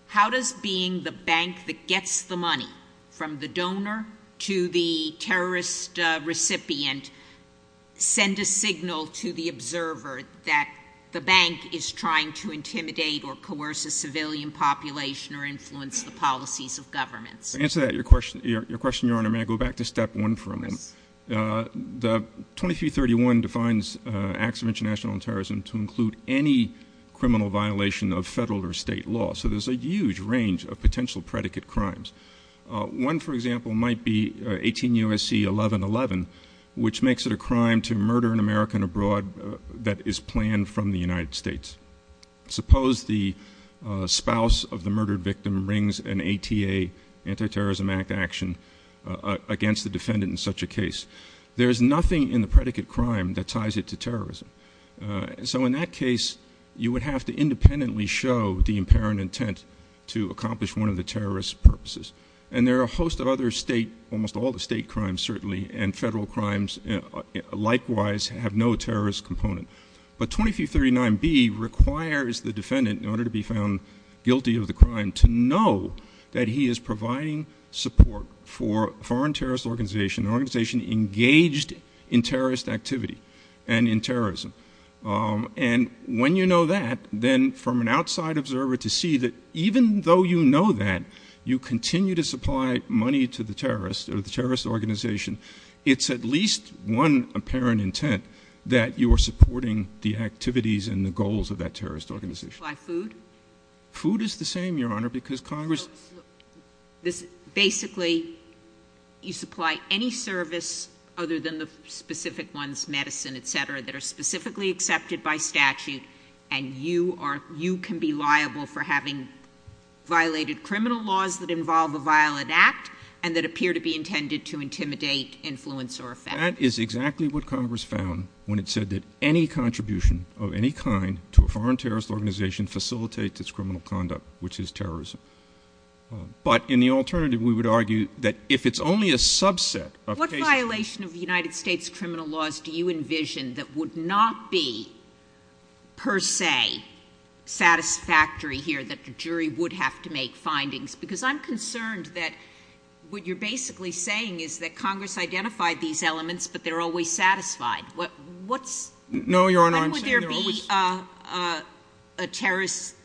how does being the bank that gets the money from the donor to the terrorist recipient send a signal to the observer that the bank is trying to intimidate or coerce a civilian population or influence the policies of government? To answer your question, Your Honor, may I go back to step one for a moment? The 2331 defines acts of international terrorism to include any criminal violation of federal or state law. So there's a huge range of potential predicate crimes. One, for example, might be 18 U.S.C. 1111, which makes it a crime to murder an American abroad that is planned from the United States. Suppose the spouse of the murdered victim rings an ATA, Anti-Terrorism Act, action against the defendant in such a case. There is nothing in the predicate crime that ties it to terrorism. So in that case, you would have to independently show the apparent intent to accomplish one of the terrorist purposes. And there are a host of other state, almost all the state crimes certainly, and federal crimes likewise have no terrorist component. But 2339B requires the defendant, in order to be found guilty of the crime, to know that he is providing support for a foreign terrorist organization, an organization engaged in terrorist activity and in terrorism. And when you know that, then from an outside observer to see that even though you know that, you continue to supply money to the terrorist or the terrorist organization, it's at least one apparent intent that you are supporting the activities and the goals of that terrorist organization. Supply food? Food is the same, Your Honor, because Congress... Basically, you supply any service other than the specific ones, medicine, etc., that are specifically accepted by statute, and you can be liable for having violated criminal laws that involve a violent act and that appear to be intended to intimidate, influence, or affect. That is exactly what Congress found when it said that any contribution of any kind to a foreign terrorist organization facilitates its criminal conduct, which is terrorism. But in the alternative, we would argue that if it's only a subset of... What violation of the United States criminal laws do you envision that would not be, per se, satisfactory here that the jury would have to make findings? Because I'm concerned that what you're basically saying is that Congress identified these elements, but they're always satisfied. What's... No, Your Honor, I'm saying they're always... When would there be a terrorist,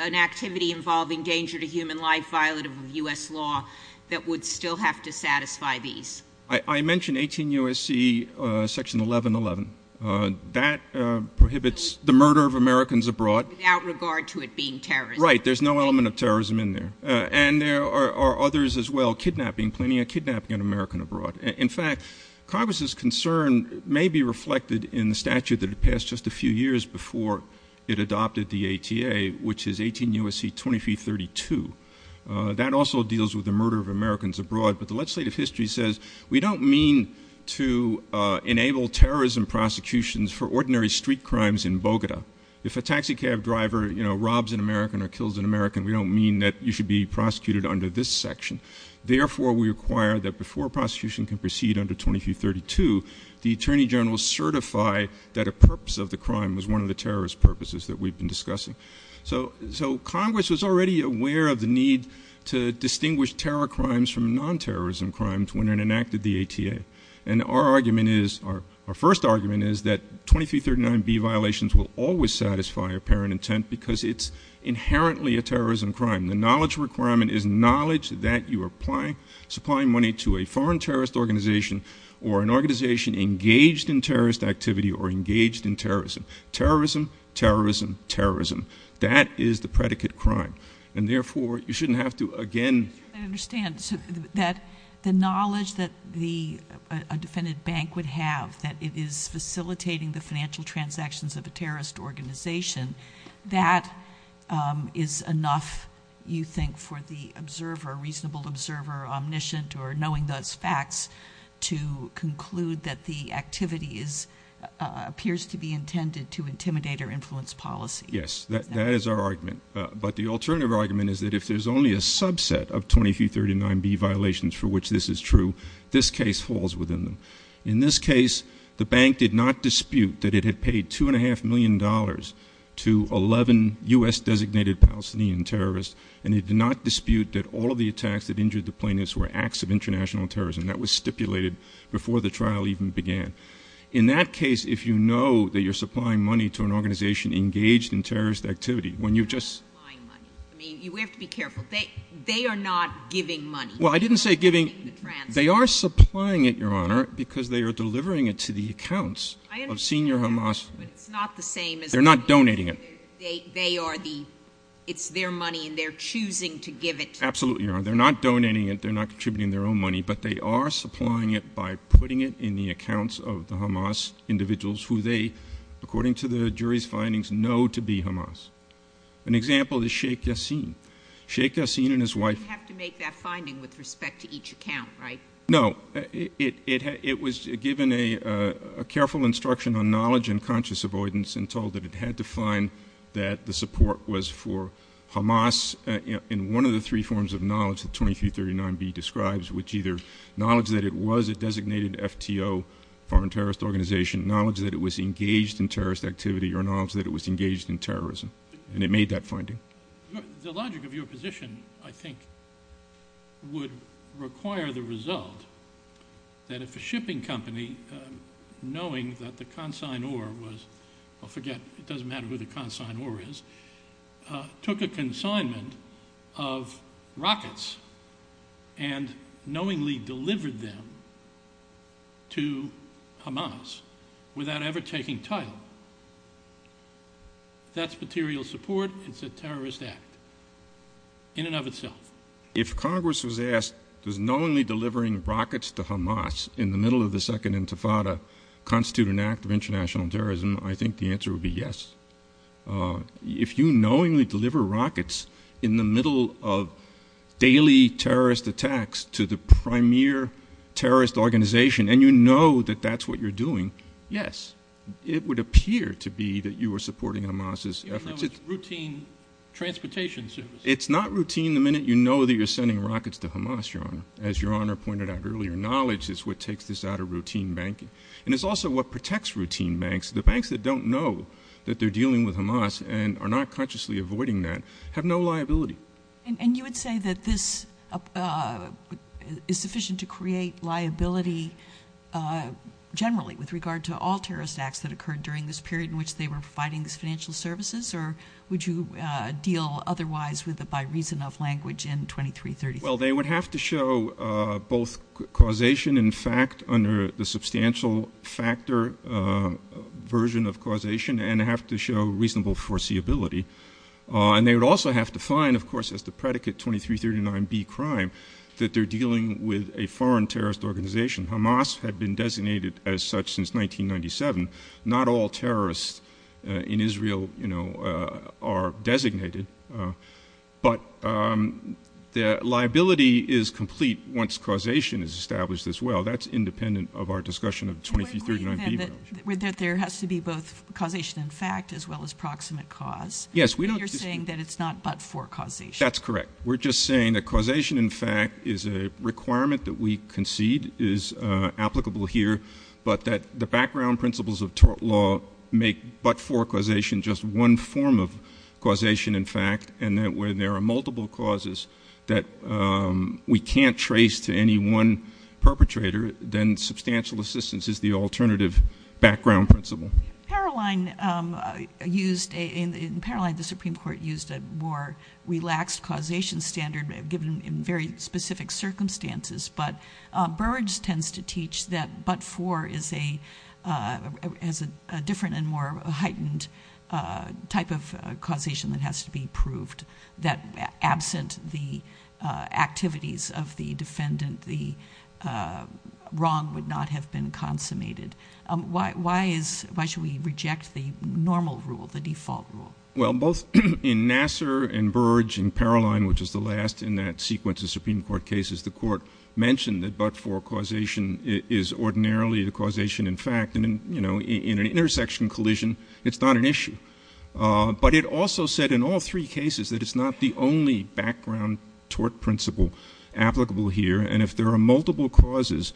an activity involving danger to human life, that would still have to satisfy these? I mentioned 18 U.S.C. section 1111. That prohibits the murder of Americans abroad. Without regard to it being terrorism. Right, there's no element of terrorism in there. And there are others as well, kidnapping, planning a kidnapping of an American abroad. In fact, Congress's concern may be reflected in the statute that passed just a few years before it adopted the ATA, which is 18 U.S.C. 2332. That also deals with the murder of Americans abroad. But the legislative history says we don't mean to enable terrorism prosecutions for ordinary street crimes in Bogota. If a taxi cab driver, you know, robs an American or kills an American, we don't mean that you should be prosecuted under this section. Therefore, we require that before prosecution can proceed under 2332, the Attorney General certify that a purpose of the crime was one of the terrorist purposes that we've been discussing. So Congress was already aware of the need to distinguish terror crimes from non-terrorism crimes when it enacted the ATA. And our argument is, our first argument is that 2339B violations will always satisfy apparent intent because it's inherently a terrorism crime. And the knowledge requirement is knowledge that you are supplying money to a foreign terrorist organization or an organization engaged in terrorist activity or engaged in terrorism. Terrorism, terrorism, terrorism. That is the predicate crime. And therefore, you shouldn't have to, again... I understand that the knowledge that a defendant bank would have, that it is facilitating the financial transactions of a terrorist organization, that is enough, you think, for the observer, reasonable observer, omniscient, or knowing those facts to conclude that the activity appears to be intended to intimidate or influence policy. Yes, that is our argument. But the alternative argument is that if there's only a subset of 2339B violations for which this is true, this case falls within them. In this case, the bank did not dispute that it had paid $2.5 million to 11 U.S.-designated Palestinian terrorists, and it did not dispute that all of the attacks that injured the plaintiffs were acts of international terrorism. That was stipulated before the trial even began. In that case, if you know that you're supplying money to an organization engaged in terrorist activity, when you just... You have to be careful. They are not giving money. Well, I didn't say giving. They are supplying it, Your Honor, because they are delivering it to the accounts of senior Hamas... It's not the same as... They're not donating it. They are the... It's their money, and they're choosing to give it. Absolutely, Your Honor. They're not donating it, they're not contributing their own money, but they are supplying it by putting it in the accounts of the Hamas individuals who they, according to the jury's findings, know to be Hamas. An example is Sheikh Yassin. Sheikh Yassin and his wife... They didn't have to make that finding with respect to each account, right? No. It was given a careful instruction on knowledge and conscious avoidance and told that it had to find that the support was for Hamas in one of the three forms of knowledge that 2339b describes, which either knowledge that it was a designated FTO, foreign terrorist organization, knowledge that it was engaged in terrorist activity, or knowledge that it was engaged in terrorism. And it made that finding. The logic of your position, I think, would require the result that if a shipping company, knowing that the consignor was... I forget. It doesn't matter who the consignor is. Took a consignment of rockets and knowingly delivered them to Hamas without ever taking title. That's material support. It's a terrorist act in and of itself. If Congress was asked, does knowingly delivering rockets to Hamas in the middle of the Second Intifada constitute an act of international terrorism, I think the answer would be yes. If you knowingly deliver rockets in the middle of daily terrorist attacks to the primary terrorist organization and you know that that's what you're doing, yes. It would appear to be that you were supporting Hamas's efforts. It's routine transportation services. It's not routine the minute you know that you're sending rockets to Hamas, Your Honor. As Your Honor pointed out earlier, knowledge is what takes this out of routine banking. And it's also what protects routine banks. The banks that don't know that they're dealing with Hamas and are not consciously avoiding that have no liability. And you would say that this is sufficient to create liability generally with regard to all terrorist acts that occurred during this period in which they were providing financial services? Or would you deal otherwise with it by reason of language in 2330? Well, they would have to show both causation and fact under the substantial factor version of causation and have to show reasonable foreseeability. And they would also have to find, of course, as the predicate 2339B crime, that they're dealing with a foreign terrorist organization. Hamas had been designated as such since 1997. Not all terrorists in Israel are designated. But the liability is complete once causation is established as well. That's independent of our discussion of 2339B. But there has to be both causation and fact as well as proximate cause. Yes. Because you're saying that it's not but-for causation. That's correct. We're just saying that causation and fact is a requirement that we concede is applicable here, but that the background principles of tort law make but-for causation just one form of causation and fact, and that when there are multiple causes that we can't trace to any one perpetrator, then substantial assistance is the alternative background principle. In Paroline, the Supreme Court used a more relaxed causation standard given in very specific circumstances. But Burge tends to teach that but-for is a different and more heightened type of causation that has to be proved, that absent the activities of the defendant, the wrong would not have been consummated. Why should we reject the normal rule, the default rule? Well, both in Nassar and Burge and Paroline, which is the last in that sequence of Supreme Court cases, the court mentioned that but-for causation is ordinarily the causation and fact. In an intersection collision, it's not an issue. But it also said in all three cases that it's not the only background tort principle applicable here, and if there are multiple causes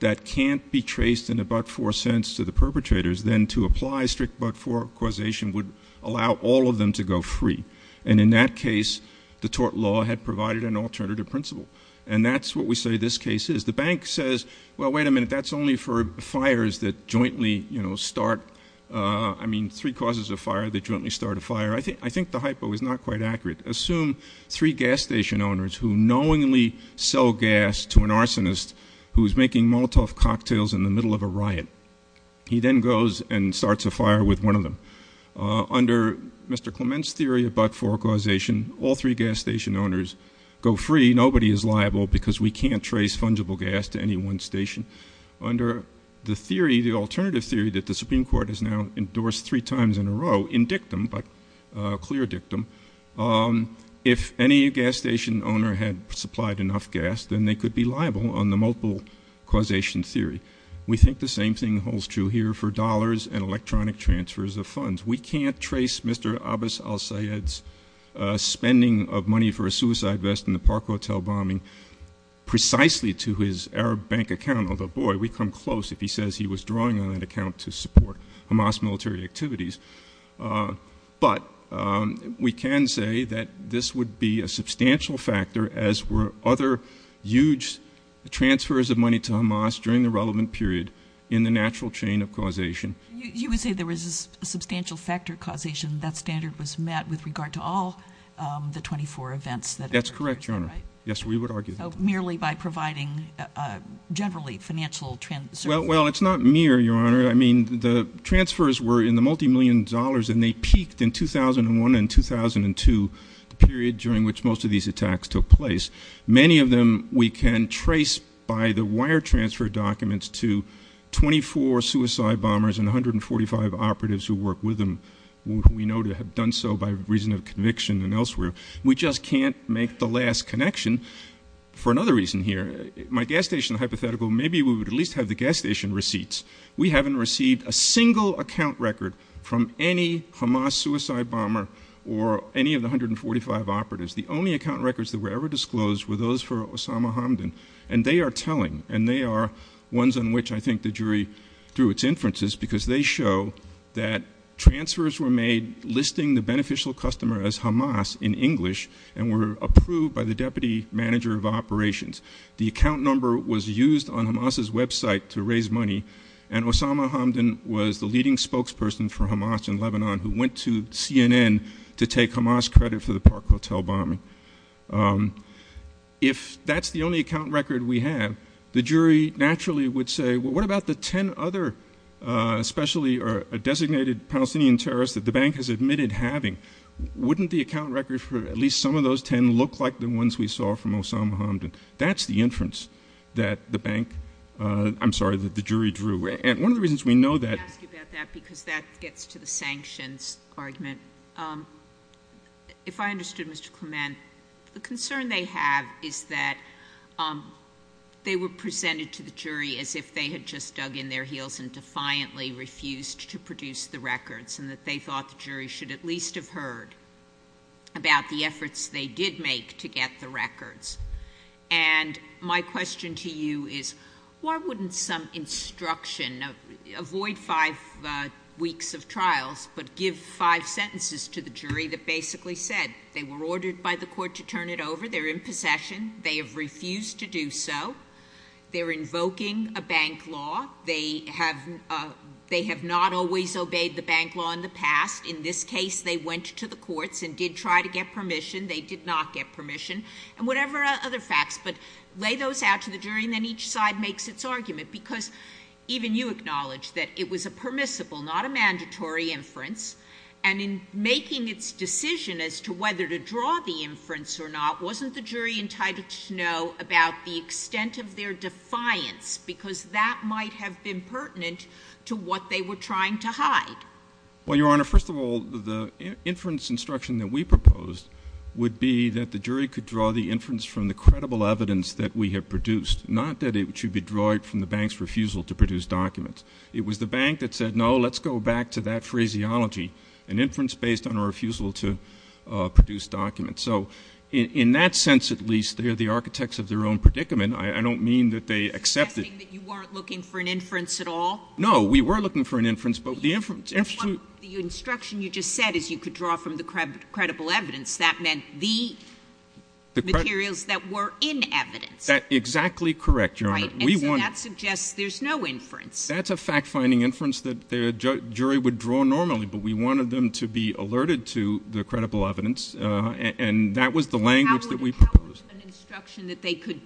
that can't be traced in a but-for sense to the perpetrators, then to apply strict but-for causation would allow all of them to go free. And in that case, the tort law had provided an alternative principle. And that's what we say this case is. The bank says, well, wait a minute, that's only for fires that jointly start. I mean, three causes of fire that jointly start a fire. I think the hypo is not quite accurate. Assume three gas station owners who knowingly sell gas to an arsonist who is making Molotov cocktails in the middle of a riot. He then goes and starts a fire with one of them. Under Mr. Clement's theory of but-for causation, all three gas station owners go free. Nobody is liable because we can't trace fungible gas to any one station. Under the theory, the alternative theory that the Supreme Court has now endorsed three times in a row in dictum, but clear dictum, if any gas station owner had supplied enough gas, then they could be liable on the multiple causation theory. We think the same thing holds true here for dollars and electronic transfers of funds. We can't trace Mr. Abbas al-Sayed's spending of money for a suicide vest in the Park Hotel bombing precisely to his Arab bank account. Although, boy, we come close if he says he was drawing on that account to support Hamas military activities. But we can say that this would be a substantial factor, as were other huge transfers of money to Hamas during the relevant period in the natural chain of causation. You would say there was a substantial factor causation that standard was met with regard to all the 24 events that occurred? That's correct, Your Honor. Yes, we would argue. Merely by providing generally financial transfers? Well, it's not mere, Your Honor. I mean, the transfers were in the multimillion dollars, and they peaked in 2001 and 2002, the period during which most of these attacks took place. Many of them we can trace by the wire transfer documents to 24 suicide bombers and 145 operatives who work with them. We know to have done so by reason of conviction and elsewhere. We just can't make the last connection for another reason here. My gas station hypothetical, maybe we would at least have the gas station receipts. We haven't received a single account record from any Hamas suicide bomber or any of the 145 operatives. The only account records that were ever disclosed were those for Osama Hamdan, and they are telling, and they are ones on which I think the jury drew its inferences because they show that transfers were made listing the beneficial customer as Hamas in English and were approved by the deputy manager of operations. The account number was used on Hamas's website to raise money, and Osama Hamdan was the leading spokesperson for Hamas in Lebanon who went to CNN to take Hamas credit for the Park Hotel bombing. If that's the only account record we have, the jury naturally would say, well, what about the 10 other, especially a designated Palestinian terrorist that the bank has admitted having? Wouldn't the account record for at least some of those 10 look like the ones we saw from Osama Hamdan? That's the inference that the bank, I'm sorry, that the jury drew, and one of the reasons we know that I'm happy about that because that gets to the sanctions argument. If I understood Mr. Clement, the concern they have is that they were presented to the jury as if they had just dug in their heels and defiantly refused to produce the records and that they thought the jury should at least have heard about the efforts they did make to get the records. And my question to you is, why wouldn't some instruction, avoid five weeks of trials, but give five sentences to the jury that basically said they were ordered by the court to turn it over, they're in possession, they have refused to do so, they're invoking a bank law, they have not always obeyed the bank law in the past, in this case they went to the courts and did try to get permission, they did not get permission, and whatever other facts, but lay those out to the jury and then each side makes its argument, because even you acknowledged that it was a permissible, not a mandatory inference, and in making its decision as to whether to draw the inference or not, wasn't the jury entitled to know about the extent of their defiance, because that might have been pertinent to what they were trying to hide? Well, Your Honor, first of all, the inference instruction that we proposed would be that the jury could draw the inference from the credible evidence that we have produced, not that it should be drawn from the bank's refusal to produce documents. It was the bank that said, no, let's go back to that phraseology, an inference based on a refusal to produce documents. So in that sense, at least, they are the architects of their own predicament. I don't mean that they accept it. You weren't looking for an inference at all? No, we were looking for an inference, but the inference... The instruction you just said is you could draw from the credible evidence. That meant the materials that were in evidence. Exactly correct, Your Honor. Right, and so that suggests there's no inference. That's a fact-finding inference that the jury would draw normally, but we wanted them to be alerted to the credible evidence, and that was the language that we proposed. How would an instruction that they could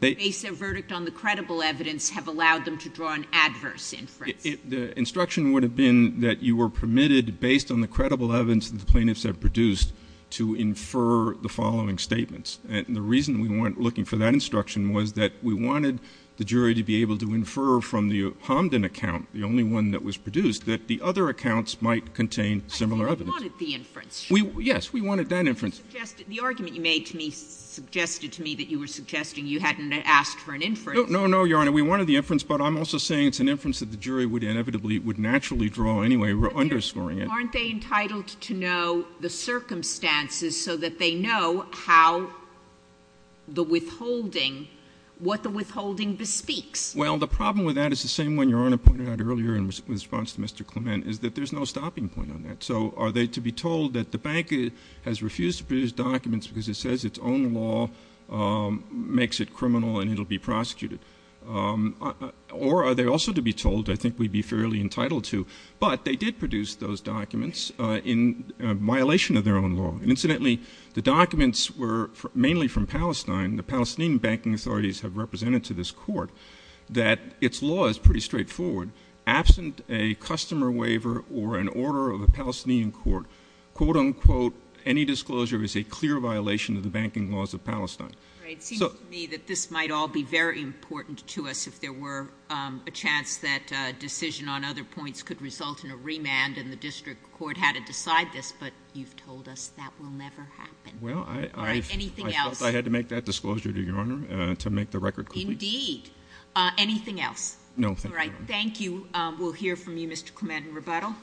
base their verdict on the credible evidence have allowed them to draw an adverse inference? The instruction would have been that you were permitted, based on the credible evidence the plaintiffs have produced, to infer the following statements. And the reason we weren't looking for that instruction was that we wanted the jury to be able to infer from the Hamdan account, the only one that was produced, that the other accounts might contain similar evidence. We wanted the inference. Yes, we wanted that inference. The argument you made to me suggested to me that you were suggesting you hadn't asked for an inference. No, no, Your Honor, we wanted the inference, but I'm also saying it's an inference that the jury would inevitably, would naturally draw anyway, underscoring it. Aren't they entitled to know the circumstances so that they know how the withholding, what the withholding bespeaks? Well, the problem with that is the same one Your Honor pointed out earlier in response to Mr. Clement, is that there's no stopping point on that. So are they to be told that the bank has refused to produce documents because it says its own law makes it criminal and it'll be prosecuted? Or are they also to be told, I think we'd be fairly entitled to, but they did produce those documents in violation of their own law. Incidentally, the documents were mainly from Palestine. The Palestinian banking authorities have represented to this court that its law is pretty straightforward. Absent a customer waiver or an order of the Palestinian court, quote unquote, any disclosure is a clear violation of the banking laws of Palestine. It seems to me that this might all be very important to us if there were a chance that a decision on other points could result in a remand and the district court had to decide this, but you've told us that will never happen. Well, I felt I had to make that disclosure to Your Honor to make the record clear. Indeed. Anything else? No. All right. Thank you. We'll hear from you, Mr. Clement. Rebuttal?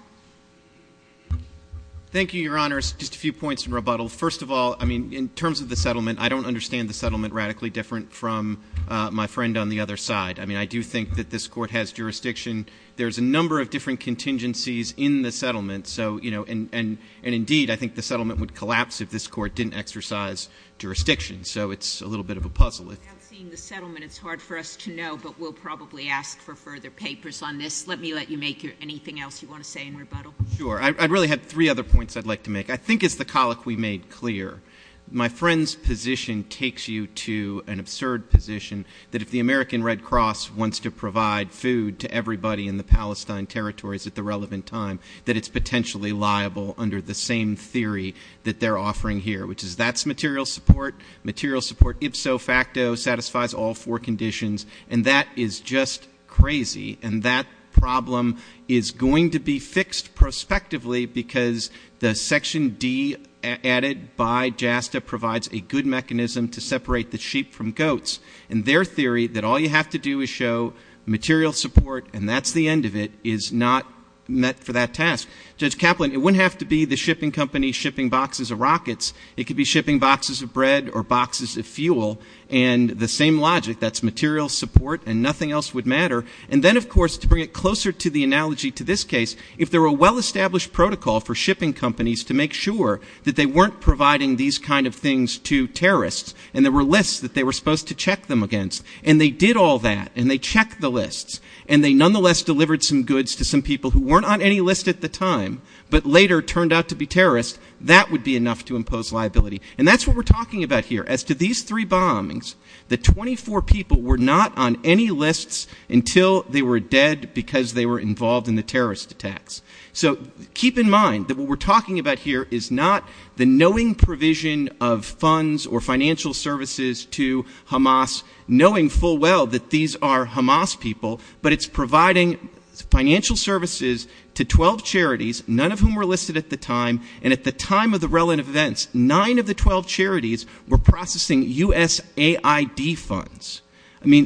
Thank you, Your Honor. Just a few points in rebuttal. First of all, I mean, in terms of the settlement, I don't understand the settlement radically different from my friend on the other side. I mean, I do think that this court has jurisdiction. There's a number of different contingencies in the settlement, and indeed, I think the settlement would collapse if this court didn't exercise jurisdiction, so it's a little bit of a puzzle. Seeing the settlement, it's hard for us to know, but we'll probably ask for further papers on this. Let me let you make anything else you want to say in rebuttal. Sure. I really have three other points I'd like to make. I think it's the colloquy made clear. My friend's position takes you to an absurd position that if the American Red Cross wants to provide food to everybody in the Palestine territories at the relevant time, that it's potentially liable under the same theory that they're offering here, which is that's material support. Material support, ipso facto, satisfies all four conditions, and that is just crazy, and that problem is going to be fixed prospectively because the Section D added by JASTA provides a good mechanism to separate the sheep from goats, and their theory that all you have to do is show material support, and that's the end of it, is not met for that task. Judge Kaplan, it wouldn't have to be the shipping company shipping boxes of rockets. It could be shipping boxes of bread or boxes of fuel, and the same logic, that's material support and nothing else would matter. And then, of course, to bring it closer to the analogy to this case, if there were a well-established protocol for shipping companies to make sure that they weren't providing these kind of things to terrorists, and there were lists that they were supposed to check them against, and they did all that, and they checked the lists, and they nonetheless delivered some goods to some people who weren't on any list at the time, but later turned out to be terrorists, that would be enough to impose liability. And that's what we're talking about here, as to these three bombings, the 24 people were not on any lists until they were dead because they were involved in the terrorist attacks. So keep in mind that what we're talking about here is not the knowing provision of funds or financial services to Hamas, knowing full well that these are Hamas people, but it's providing financial services to 12 charities, none of whom were listed at the time, and at the time of the relevant events, 9 of the 12 charities were processing USAID funds.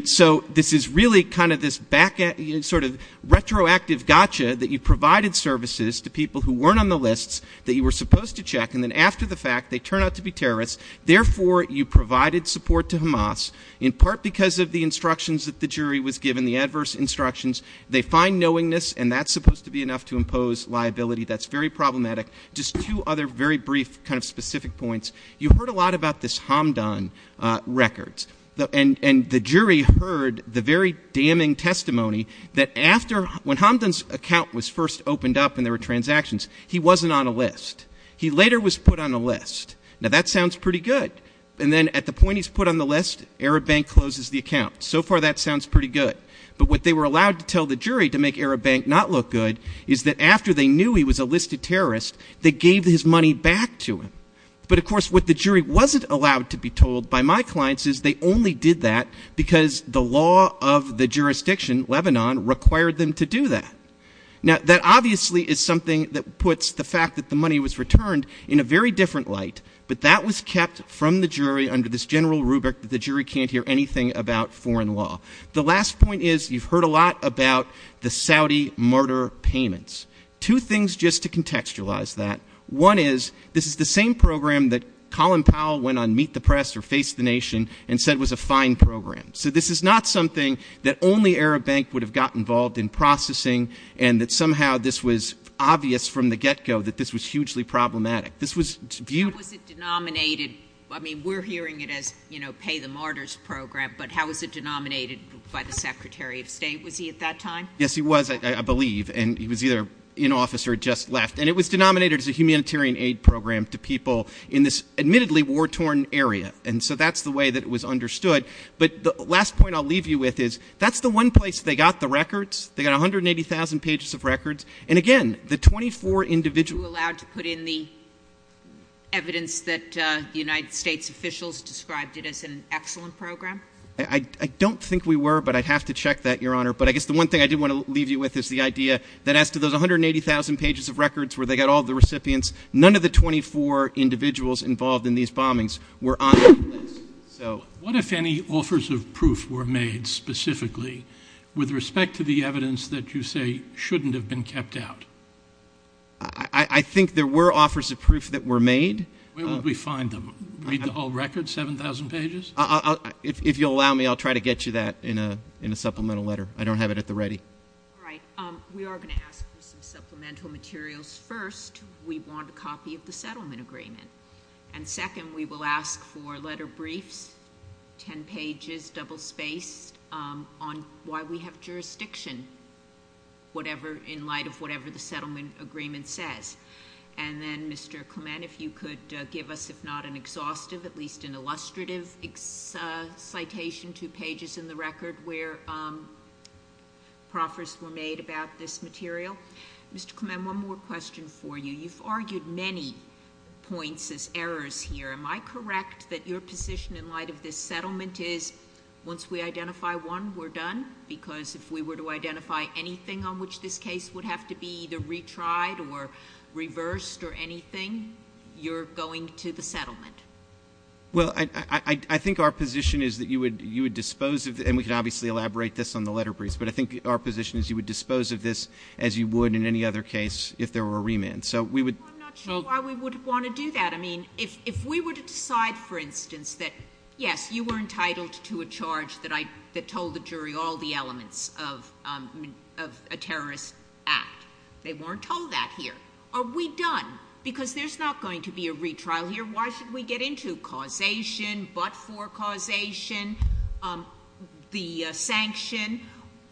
So this is really kind of this sort of retroactive gotcha that you provided services to people who weren't on the lists that you were supposed to check, and then after the fact they turn out to be terrorists, therefore you provided support to Hamas, in part because of the instructions that the jury was given, the adverse instructions. They find knowingness, and that's supposed to be enough to impose liability. That's very problematic. Just two other very brief kind of specific points. You heard a lot about this Hamdan record, and the jury heard the very damning testimony that when Hamdan's account was first opened up and there were transactions, he wasn't on a list. He later was put on a list. Now that sounds pretty good. And then at the point he's put on the list, Arab Bank closes the account. So far that sounds pretty good. But what they were allowed to tell the jury to make Arab Bank not look good is that after they knew he was a listed terrorist, they gave his money back to him. But of course what the jury wasn't allowed to be told by my clients is they only did that because the law of the jurisdiction, Lebanon, required them to do that. Now that obviously is something that puts the fact that the money was returned in a very different light, but that was kept from the jury under this general rubric that the jury can't hear anything about foreign law. The last point is you've heard a lot about the Saudi martyr payments. Two things just to contextualize that. One is this is the same program that Colin Powell went on Meet the Press or Face the Nation and said was a fine program. So this is not something that only Arab Bank would have gotten involved in processing and that somehow this was obvious from the get-go that this was hugely problematic. How was it denominated? I mean, we're hearing it as, you know, pay the martyrs program, but how was it denominated by the Secretary of State? Was he at that time? Yes, he was, I believe. And he was either in office or had just left. And it was denominated as a humanitarian aid program to people in this admittedly war-torn area. And so that's the way that it was understood. But the last point I'll leave you with is that's the one place they got the records. They got 180,000 pages of records. And, again, the 24 individuals. Were you allowed to put in the evidence that the United States officials described it as an excellent program? I don't think we were, but I'd have to check that, Your Honor. But I guess the one thing I did want to leave you with is the idea that as to those 180,000 pages of records where they got all the recipients, none of the 24 individuals involved in these bombings were honest with us. What if any offers of proof were made specifically with respect to the evidence that you say shouldn't have been kept out? I think there were offers of proof that were made. Where would we find them? Read the whole record, 7,000 pages? If you'll allow me, I'll try to get you that in a supplemental letter. I don't have it at the ready. All right. We are going to ask for supplemental materials. First, we want a copy of the settlement agreement. And, second, we will ask for a letter brief, 10 pages, double-spaced, on why we have jurisdiction in light of whatever the settlement agreement says. And then, Mr. Clement, if you could give us, if not an exhaustive, at least an illustrative citation, two pages in the record where proffers were made about this material. Mr. Clement, one more question for you. You've argued many points as errors here. Am I correct that your position in light of this settlement is once we identify one, we're done? Because if we were to identify anything on which this case would have to be either retried or reversed or anything, you're going to the settlement? Well, I think our position is that you would dispose of it. And we can obviously elaborate this on the letter brief. But I think our position is you would dispose of this as you would in any other case if there were a remand. I'm not sure why we would want to do that. I mean, if we were to decide, for instance, that, yes, you were entitled to a charge that told the jury all the elements of a terrorist act. They weren't told that here. Are we done? Because there's not going to be a retrial here. Why should we get into causation, but-for causation, the sanction?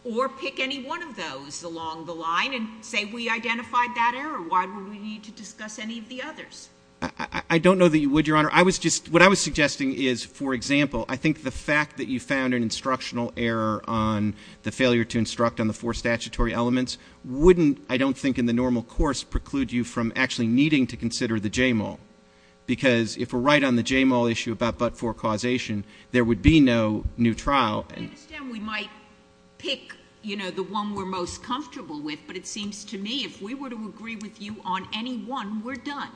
Or pick any one of those along the line and say we identified that error. Why would we need to discuss any of the others? I don't know that you would, Your Honor. I was just — what I was suggesting is, for example, I think the fact that you found an instructional error on the failure to instruct on the four statutory elements wouldn't, I don't think in the normal course, preclude you from actually needing to consider the JMAL. Because if we're right on the JMAL issue about but-for causation, there would be no new trial. Then we might pick, you know, the one we're most comfortable with. But it seems to me if we were to agree with you on any one, we're done.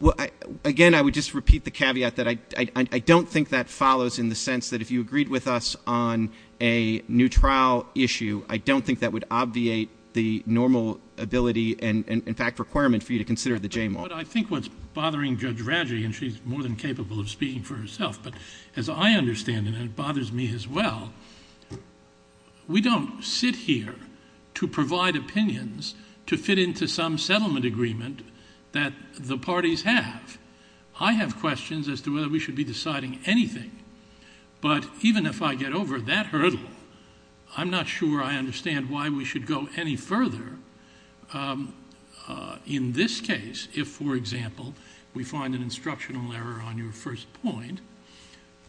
Well, again, I would just repeat the caveat that I don't think that follows in the sense that if you agreed with us on a new trial issue, I don't think that would obviate the normal ability and, in fact, requirement for you to consider the JMAL. But I think what's bothering Judge Radley, and she's more than capable of speaking for herself, but as I understand it, and it bothers me as well, we don't sit here to provide opinions to fit into some settlement agreement that the parties have. I have questions as to whether we should be deciding anything. But even if I get over that hurdle, I'm not sure I understand why we should go any further. In this case, if, for example, we find an instructional error on your first point,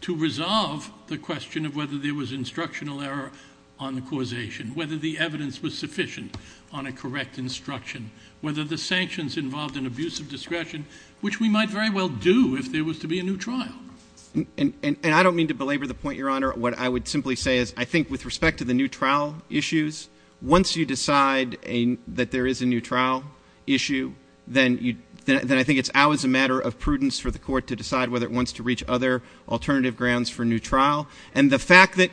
to resolve the question of whether there was instructional error on causation, whether the evidence was sufficient on a correct instruction, whether the sanctions involved an abuse of discretion, which we might very well do if there was to be a new trial. And I don't mean to belabor the point, Your Honor. What I would simply say is I think with respect to the new trial issues, once you decide that there is a new trial issue, then I think it's always a matter of prudence for the Court to decide whether it wants to reach other alternative grounds for a new trial. And the fact that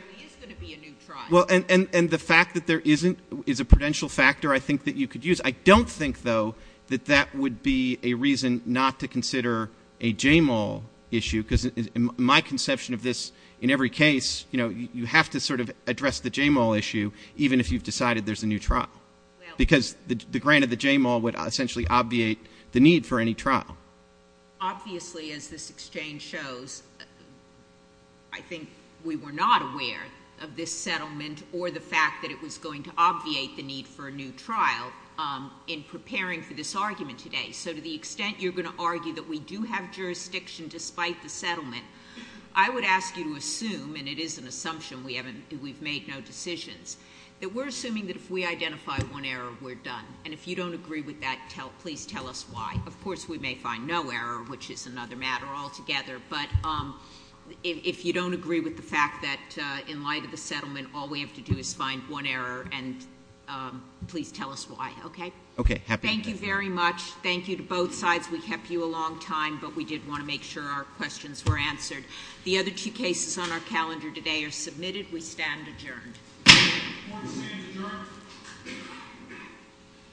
there isn't is a prudential factor, I think, that you could use. I don't think, though, that that would be a reason not to consider a JMAL issue, because in my conception of this, in every case, you know, you have to sort of address the JMAL issue, even if you've decided there's a new trial, because granted, the JMAL would essentially obviate the need for any trial. Obviously, as this exchange shows, I think we were not aware of this settlement or the fact that it was going to obviate the need for a new trial in preparing for this argument today. So to the extent you're going to argue that we do have jurisdiction despite the settlement, I would ask you to assume, and it is an assumption, we've made no decisions, that we're assuming that if we identify one error, we're done. And if you don't agree with that, please tell us why. Of course, we may find no error, which is another matter altogether. But if you don't agree with the fact that in light of the settlement, all we have to do is find one error, and please tell us why. Okay? Thank you very much. Thank you to both sides. We kept you a long time, but we did want to make sure our questions were answered. The other two cases on our calendar today are submitted. We stand adjourned.